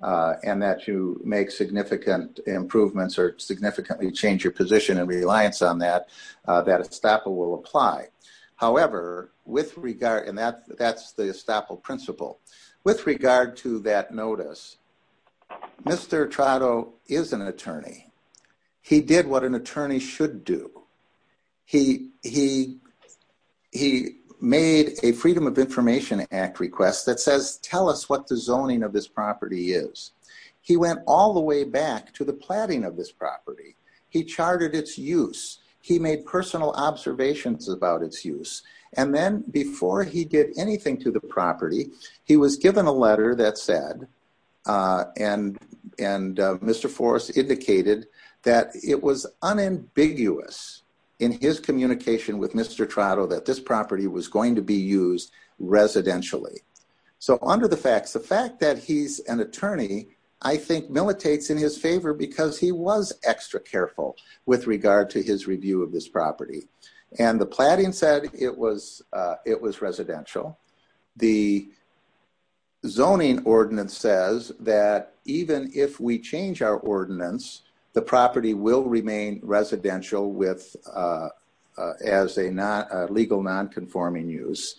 and that you make significant improvements or significantly change your position and reliance on that, that estoppel will apply. However, with regard, and that's the notice, Mr. Trotto is an attorney. He did what an attorney should do. He made a Freedom of Information Act request that says, tell us what the zoning of this property is. He went all the way back to the planning of this property. He charted its use. He made personal observations about its use. And then before he did anything to the property, he was given a letter that said, and Mr. Forrest indicated that it was unambiguous in his communication with Mr. Trotto that this property was going to be used residentially. So under the facts, the fact that he's an attorney, I think, militates in his favor because he was extra careful with regard to his review of this that even if we change our ordinance, the property will remain residential as a legal nonconforming use.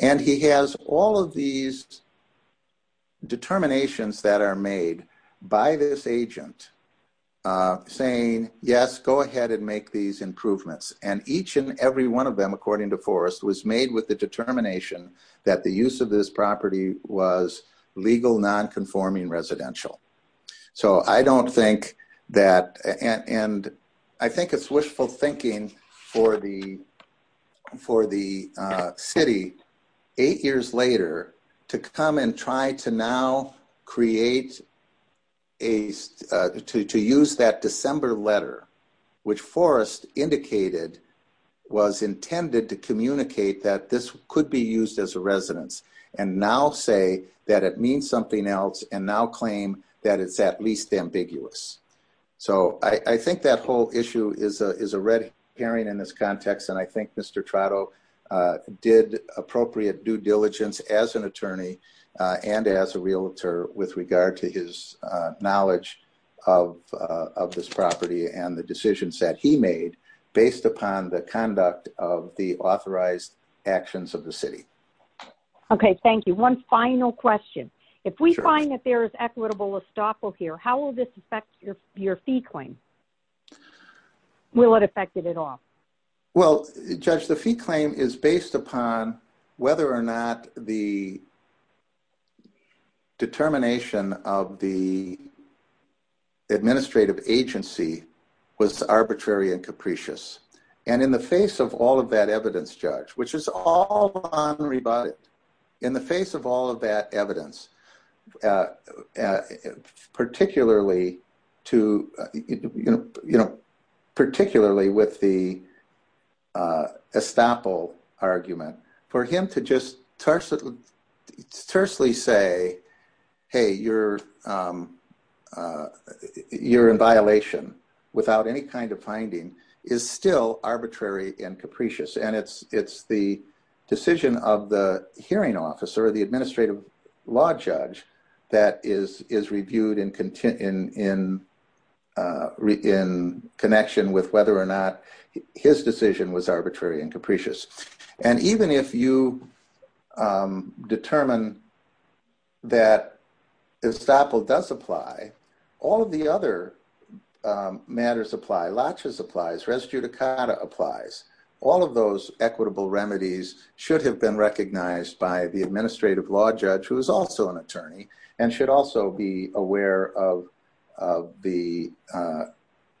And he has all of these determinations that are made by this agent saying, yes, go ahead and make these improvements. And each and every one of them, according to Forrest, was made with the determination that the use of this property was legal nonconforming residential. So I don't think that, and I think it's wishful thinking for the city eight years later to come and try to now create a, to use that December letter, which Forrest indicated was intended to communicate that this could be used as a residence and now say that it means something else and now claim that it's at least ambiguous. So I think that whole issue is a red herring in this context. And I think Mr. Trotto did appropriate due diligence as an attorney and as a realtor with regard to his knowledge of this property and the decisions that he made based upon the conduct of the authorized actions of the city. Okay. Thank you. One final question. If we find that there is equitable estoppel here, how will this affect your fee claim? Will it affect it at all? Well, Judge, the fee claim is based upon whether or not the determination of the administrative agency was arbitrary and capricious. And in the face of all that evidence, Judge, which is all in the face of all of that evidence, particularly to, you know, particularly with the estoppel argument, for him to just tersely say, hey, you're in violation without any kind of finding is still arbitrary and capricious. And it's the decision of the hearing officer or the administrative law judge that is reviewed in connection with whether or not his decision was arbitrary and capricious. And even if you determine that estoppel does apply, all of the other matters apply. Laches applies. Res judicata applies. All of those equitable remedies should have been recognized by the administrative law judge who is also an attorney and should also be aware of the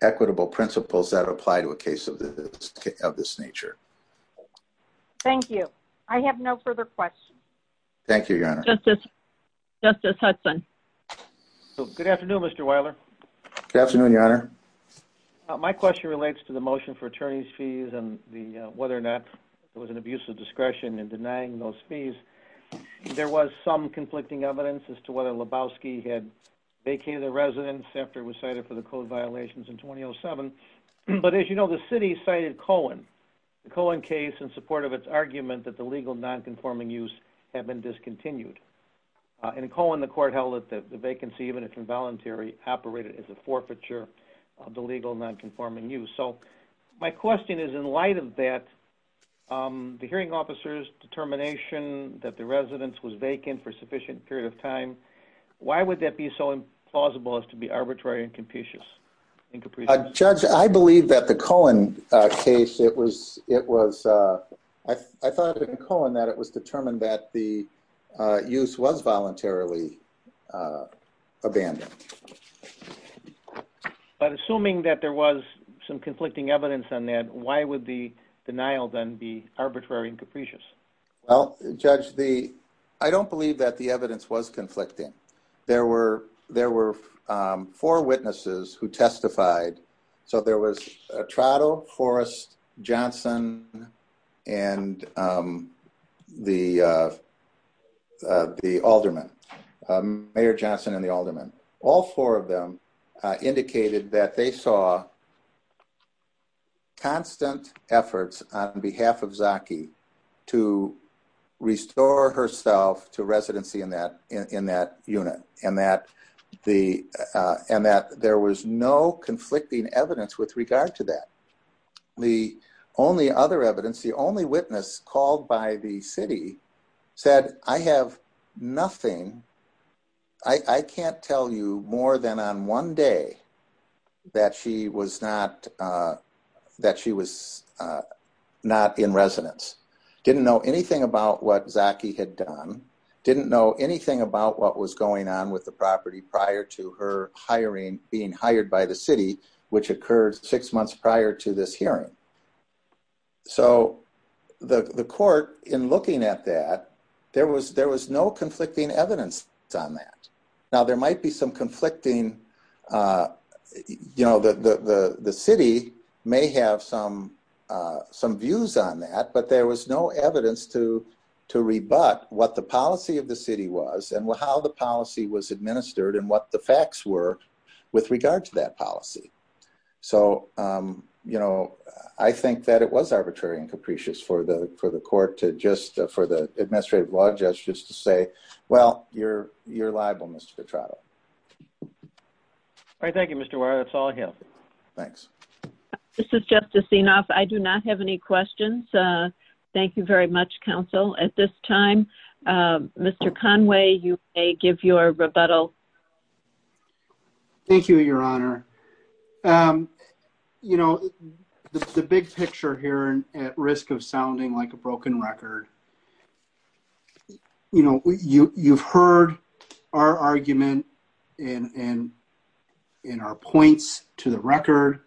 equitable principles that apply to a case of this nature. Thank you. I have no further questions. Thank you, Your Honor. Justice Hudson. Good afternoon, Mr. Weiler. Good afternoon, Your Honor. My question relates to the motion for attorney's fees and whether or not it was an abuse of discretion in denying those fees. There was some conflicting evidence as to whether Lebowski had vacated the residence after it was cited for the code violations in 2007. But as you know, the city cited Cohen. The Cohen case in support of its argument that the legal non-conforming use had been discontinued. In Cohen, the court held that the vacancy, even if involuntary, operated as a forfeiture of the legal non-conforming use. So my question is, in light of that, the hearing officer's determination that the residence was vacant for a sufficient period of time, why would that be so implausible as to be arbitrary and capricious? Judge, I believe that the Cohen case, it was, it was, I thought it was in Cohen that it was determined that the use was voluntarily abandoned. But assuming that there was some conflicting evidence on that, why would the denial then be arbitrary and capricious? Well, Judge, the, I don't believe that the evidence was conflicting. There were, there were four witnesses who testified. So there was Trottle, Horace, Johnson, and the, the Alderman, Mayor Johnson and the Alderman. All four of them indicated that they saw constant efforts on behalf of Zaki to restore herself to residency in that, in that unit. And that the, and that there was no conflicting evidence with regard to that. The only other evidence, the only witness called by the city said, I have nothing. I can't tell you more than one day that she was not, that she was not in residence. Didn't know anything about what Zaki had done. Didn't know anything about what was going on with the property prior to her hiring, being hired by the city, which occurred six months prior to this hearing. So the court in looking at that, there was, there was no conflicting evidence on that. Now there might be some conflicting, you know, the, the, the city may have some, some views on that, but there was no evidence to, to rebut what the policy of the city was and how the policy was administered and what the facts were with regard to that policy. So, you know, I think that it was arbitrary and capricious for the, for the court to just, for the administrative law judge just to say, well, you're, you're liable, Mr. Petrato. All right. Thank you, Mr. Warren. That's all I have. Thanks. This is Justice Enoff. I do not have any questions. Thank you very much, counsel. At this time, Mr. Conway, you may give your rebuttal. Thank you, your honor. You know, the big picture here and at risk of sounding like a broken record is, you know, you, you've heard our argument in, in, in our points to the record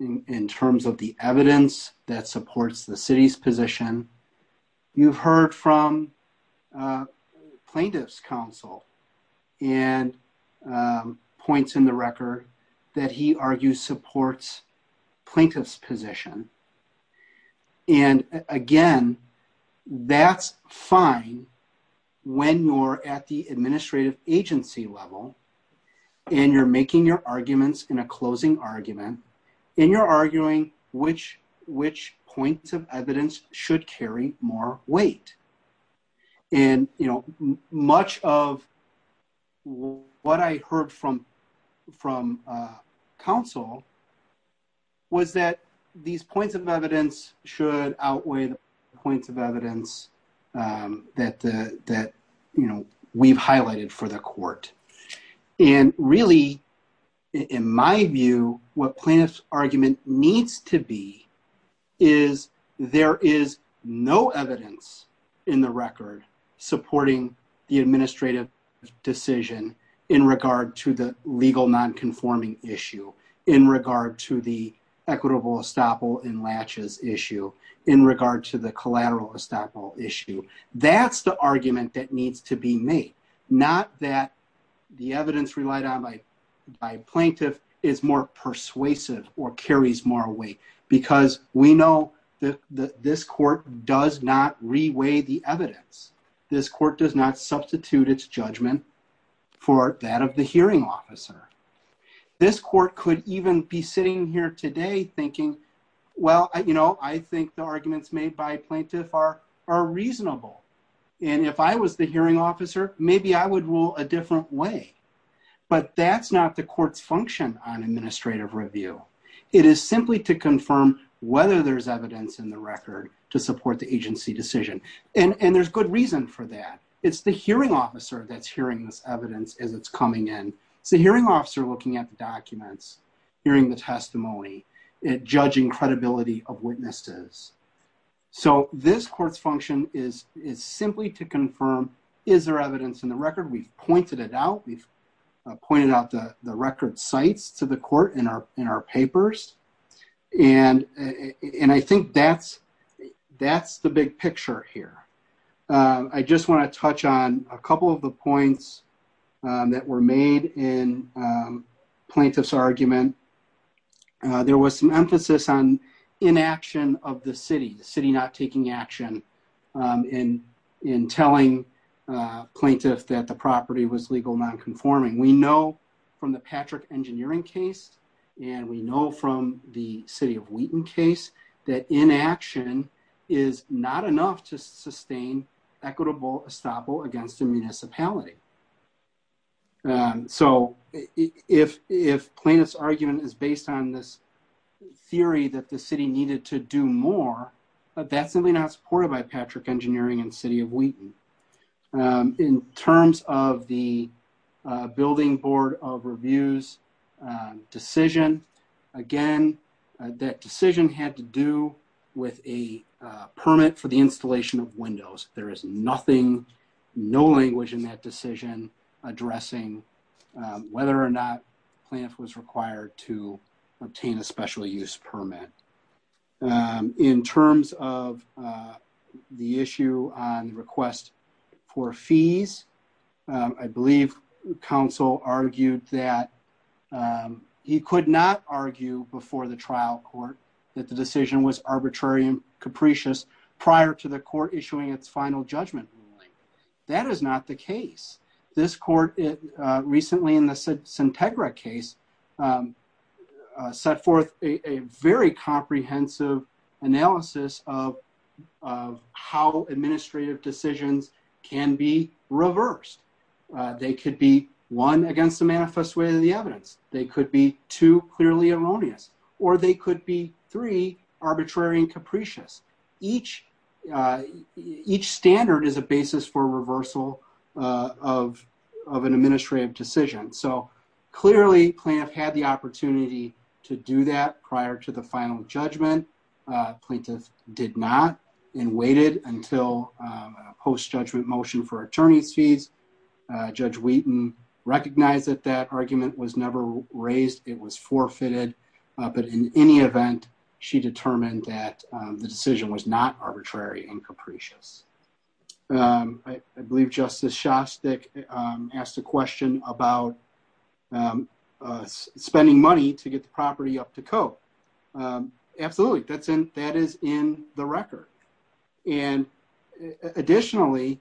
in terms of the evidence that supports the city's position. You've heard from plaintiff's counsel and points in the record that he argues supports plaintiff's position. And again, that's fine when you're at the administrative agency level and you're making your arguments in a closing argument and you're arguing which, which points of evidence should carry more weight. And, you know, much of what I heard from, from counsel was that these points of evidence should outweigh points of evidence that, that, you know, we've highlighted for the no evidence in the record supporting the administrative decision in regard to the legal nonconforming issue, in regard to the equitable estoppel and latches issue, in regard to the collateral estoppel issue. That's the argument that needs to be made, not that the evidence relied on by, by plaintiff is more persuasive or carries more weight, because we know that this court does not reweigh the evidence. This court does not substitute its judgment for that of the hearing officer. This court could even be sitting here today thinking, well, you know, I think the arguments made by plaintiff are, are reasonable. And if I was the hearing officer, maybe I would rule a different way. But that's not the court's function on whether there's evidence in the record to support the agency decision. And there's good reason for that. It's the hearing officer that's hearing this evidence as it's coming in. It's the hearing officer looking at the documents, hearing the testimony, and judging credibility of witnesses. So this court's function is, is simply to confirm, is there evidence in the record? We've pointed it to the court in our, in our papers. And, and I think that's, that's the big picture here. I just want to touch on a couple of the points that were made in plaintiff's argument. There was an emphasis on inaction of the city, the city not taking action in, in telling plaintiff that the property was legal nonconforming. We know from the Patrick engineering case, and we know from the city of Wheaton case, that inaction is not enough to sustain equitable estoppel against the municipality. So if, if plaintiff's argument is based on this theory that the city needed to do more, that's simply not supported by Patrick engineering and the city of Wheaton. In terms of the building board of reviews decision, again, that decision had to do with a permit for the installation of windows. There is nothing, no language in that decision addressing whether or not plaintiff was required to obtain a special use permit. In terms of the issue on requests for fees, I believe council argued that he could not argue before the trial court that the decision was arbitrary and capricious prior to the court issuing its final judgment ruling. That is not the case. This court, recently in the comprehensive analysis of how administrative decisions can be reversed. They could be one against the manifest way of the evidence. They could be two clearly erroneous, or they could be three arbitrary and capricious. Each, each standard is a basis for reversal of, of an judgment. Plaintiff did not and waited until post judgment motion for attorney fees. Judge Wheaton recognized that that argument was never raised. It was forfeited. But in any event, she determined that the decision was not arbitrary and capricious. I believe Justice Shostak asked a question about spending money to get the property up to code. Absolutely. That's in, that is in the record. And additionally,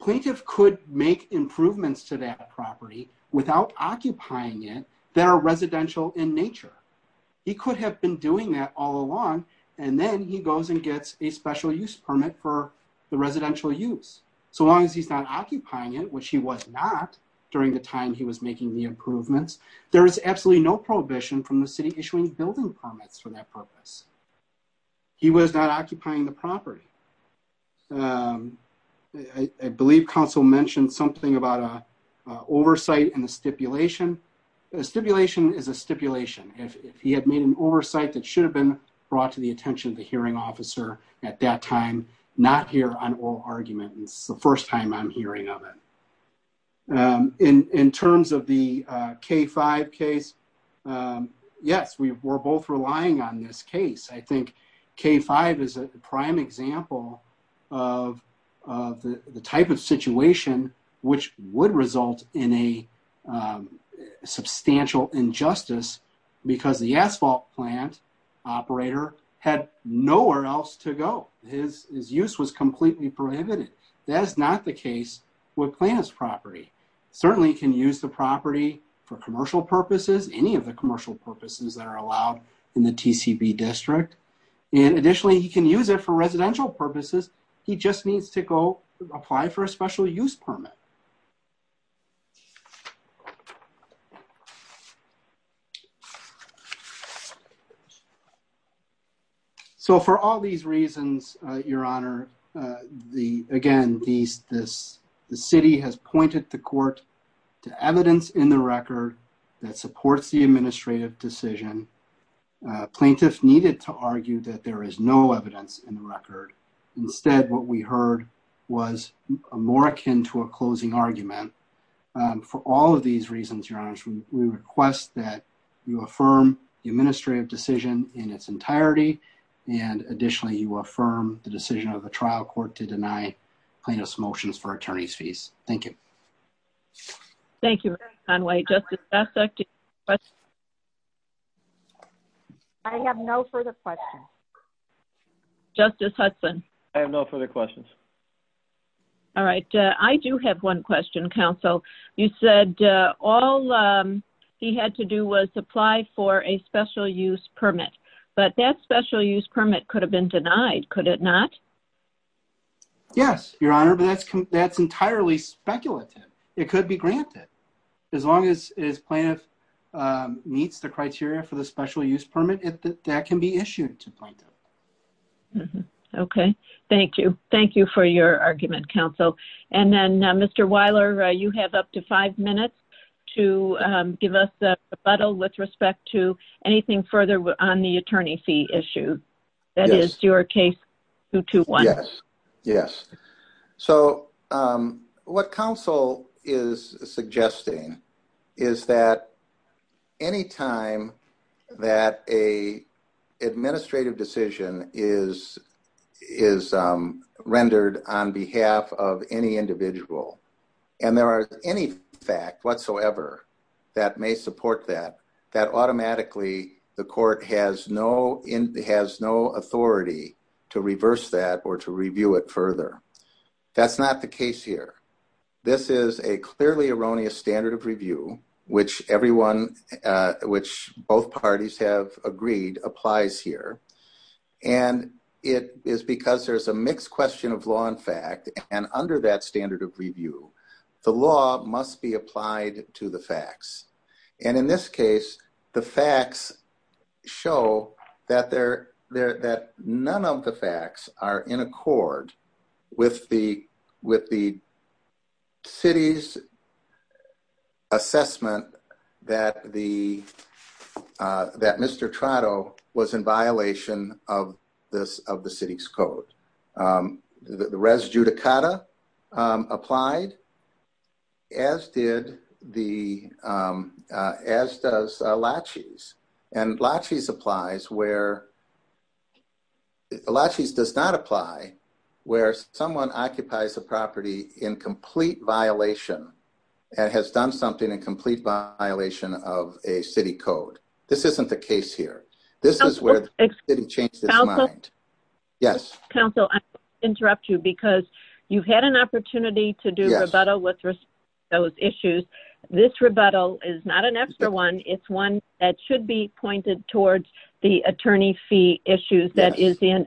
plaintiff could make improvements to that property without occupying it that are residential in nature. He could have been doing that all along. And then he goes and gets a special use permit for the residential use. So long as he's not occupying it, which he was not during the time he was making the improvements, there is absolutely no prohibition from the city issuing building permits for that purpose. He was not occupying the property. I believe counsel mentioned something about a oversight and stipulation. A stipulation is a stipulation. If he had made an oversight that should have been brought to the attention of the hearing officer at that time, not here on oral argument. It's first time I'm hearing of it. In terms of the K-5 case, yes, we're both relying on this case. I think K-5 is a prime example of the type of situation which would result in a substantial injustice because the asphalt plant operator had nowhere else to go. His use was completely prohibited. That is not the case with Planta's property. Certainly, he can use the property for commercial purposes, any of the commercial purposes that are allowed in the TTV district. And additionally, he can use it for residential purposes. He just needs to go apply for a special use permit. So, for all these reasons, your honor, again, the city has pointed to court, to evidence in the record that supports the administrative decision. Plaintiffs needed to argue that there is no evidence in the record. Instead, what we heard was more akin to a closing argument. For all of these reasons, your honor, we request that you affirm the administrative decision in its entirety. And additionally, you affirm the decision of the trial court to deny plaintiff's motions for attorney's fees. Thank you. Thank you. I have no further questions. Justice Hudson. I have no further questions. All right. I do have one question, counsel. You said all he had to do was apply for a special use permit, but that special use permit could have been denied, could it not? Yes, your honor, but that's entirely speculative. It could be granted. As long as Planta meets the criteria for the special use permit, that can be issued to Planta. Mm-hmm. Okay. Thank you. Thank you for your argument, counsel. And then, Mr. Weiler, you have up to five minutes to give us a rebuttal with respect to anything further on the attorney fee issue. That is, your case 221. Yes. So, what counsel is suggesting is that any time that an administrative decision is rendered on behalf of any individual, and there are any facts whatsoever that may support that, that automatically the court has no authority to reverse that or to review it further. That's not the case here. This is a clearly erroneous standard of review, which both parties have agreed applies here. And it is because there's a mixed question of law and the facts show that none of the facts are in accord with the city's assessment that Mr. Trotto was in violation of the city's code. The res judicata applied, as did the, as does Lachie's. And Lachie's applies where, Lachie's does not apply where someone occupies a property in complete violation and has done something in complete violation of a city code. This isn't the case here. This is where the city changed its mind. Counsel, I interrupt you because you've had an opportunity to do rebuttal with those issues. This rebuttal is not an extra one. It's one that should be pointed towards the attorney fee issues that is in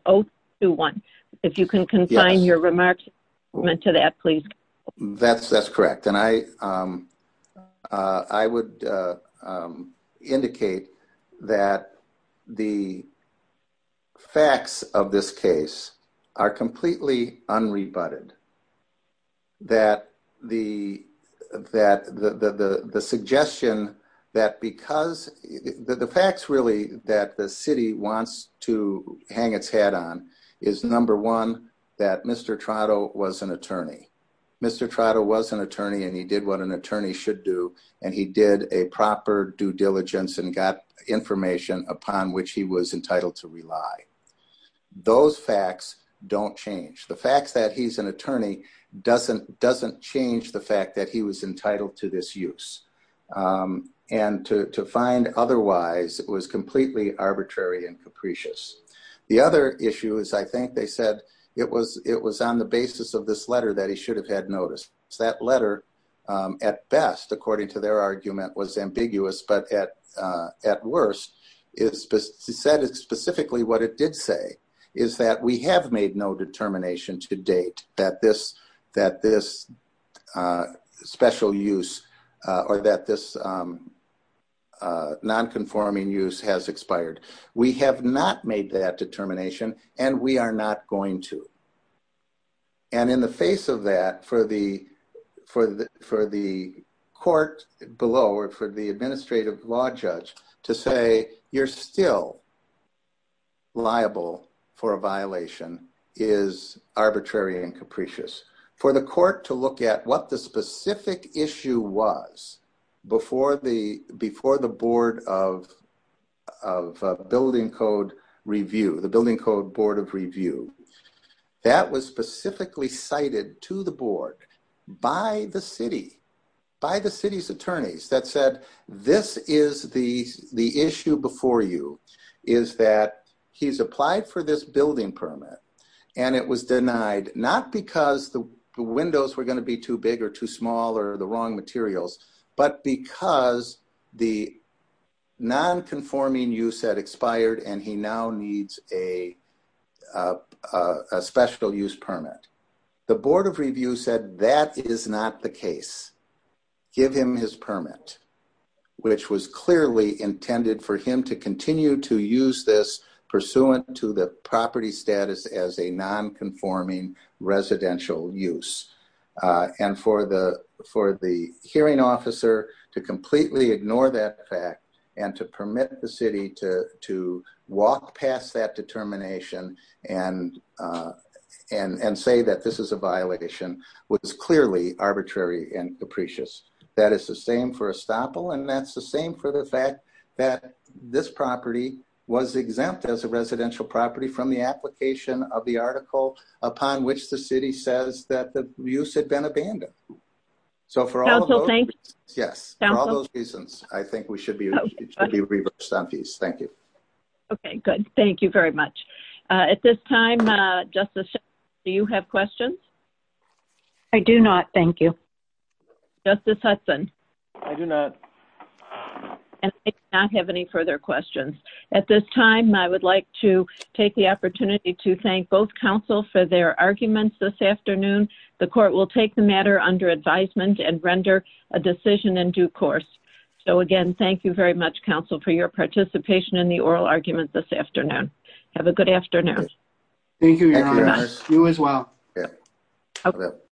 021. If you can confine your remarks to that, please. That's correct. And I would indicate that the facts of this case are completely unrebutted. That the suggestion that because, the facts really that the city wants to hang its head on is number one, that Mr. Trotto was an attorney. Mr. Trotto was an attorney and he did what an attorney should do and he did a proper due diligence and got information upon which he was entitled to rely. Those facts don't change. The fact that he's an attorney doesn't change the fact that he was entitled to this use. And to find otherwise was completely arbitrary and capricious. The other issue is I think they said it was on the basis of this letter that he should have had notice. That letter at best, according to their argument, was ambiguous. But at worst, he said specifically what it did say is that we have made no determination to date that this special use or that this non-conforming use has expired. We have not made that determination and we are not going to. And in the face of that, for the court below or for the administrative law judge to say you're still liable for a violation is arbitrary and capricious. For the court to look at what the specific issue was before the board of building code review, the building code board of review, that was specifically cited to the board by the city, by the city's attorneys that said this is the issue before you is that he's applied for this the windows were going to be too big or too small or the wrong materials. But because the non-conforming use had expired and he now needs a special use permit, the board of review said that is not the case. Give him his permit. Which was clearly intended for him to continue to use this pursuant to the property status as a non-conforming residential use. And for the hearing officer to completely ignore that fact and to permit the city to walk past that determination and say that this is a violation was clearly arbitrary and capricious. That is the same for as a residential property from the application of the article upon which the city says that the use had been abandoned. So for all those reasons, I think we should be reversed on fees. Thank you. Okay, good. Thank you very much. At this time, Justice Hudson, do you have questions? I do not. Thank you. Justice Hudson? I do not. I do not have any further questions. At this time, I would like to take the opportunity to thank both counsel for their arguments this afternoon. The court will take the matter under advisement and render a decision in due course. So again, thank you very much, counsel, for your participation in the oral argument this afternoon. Have a good afternoon. Thank you, Your Honor. You as well.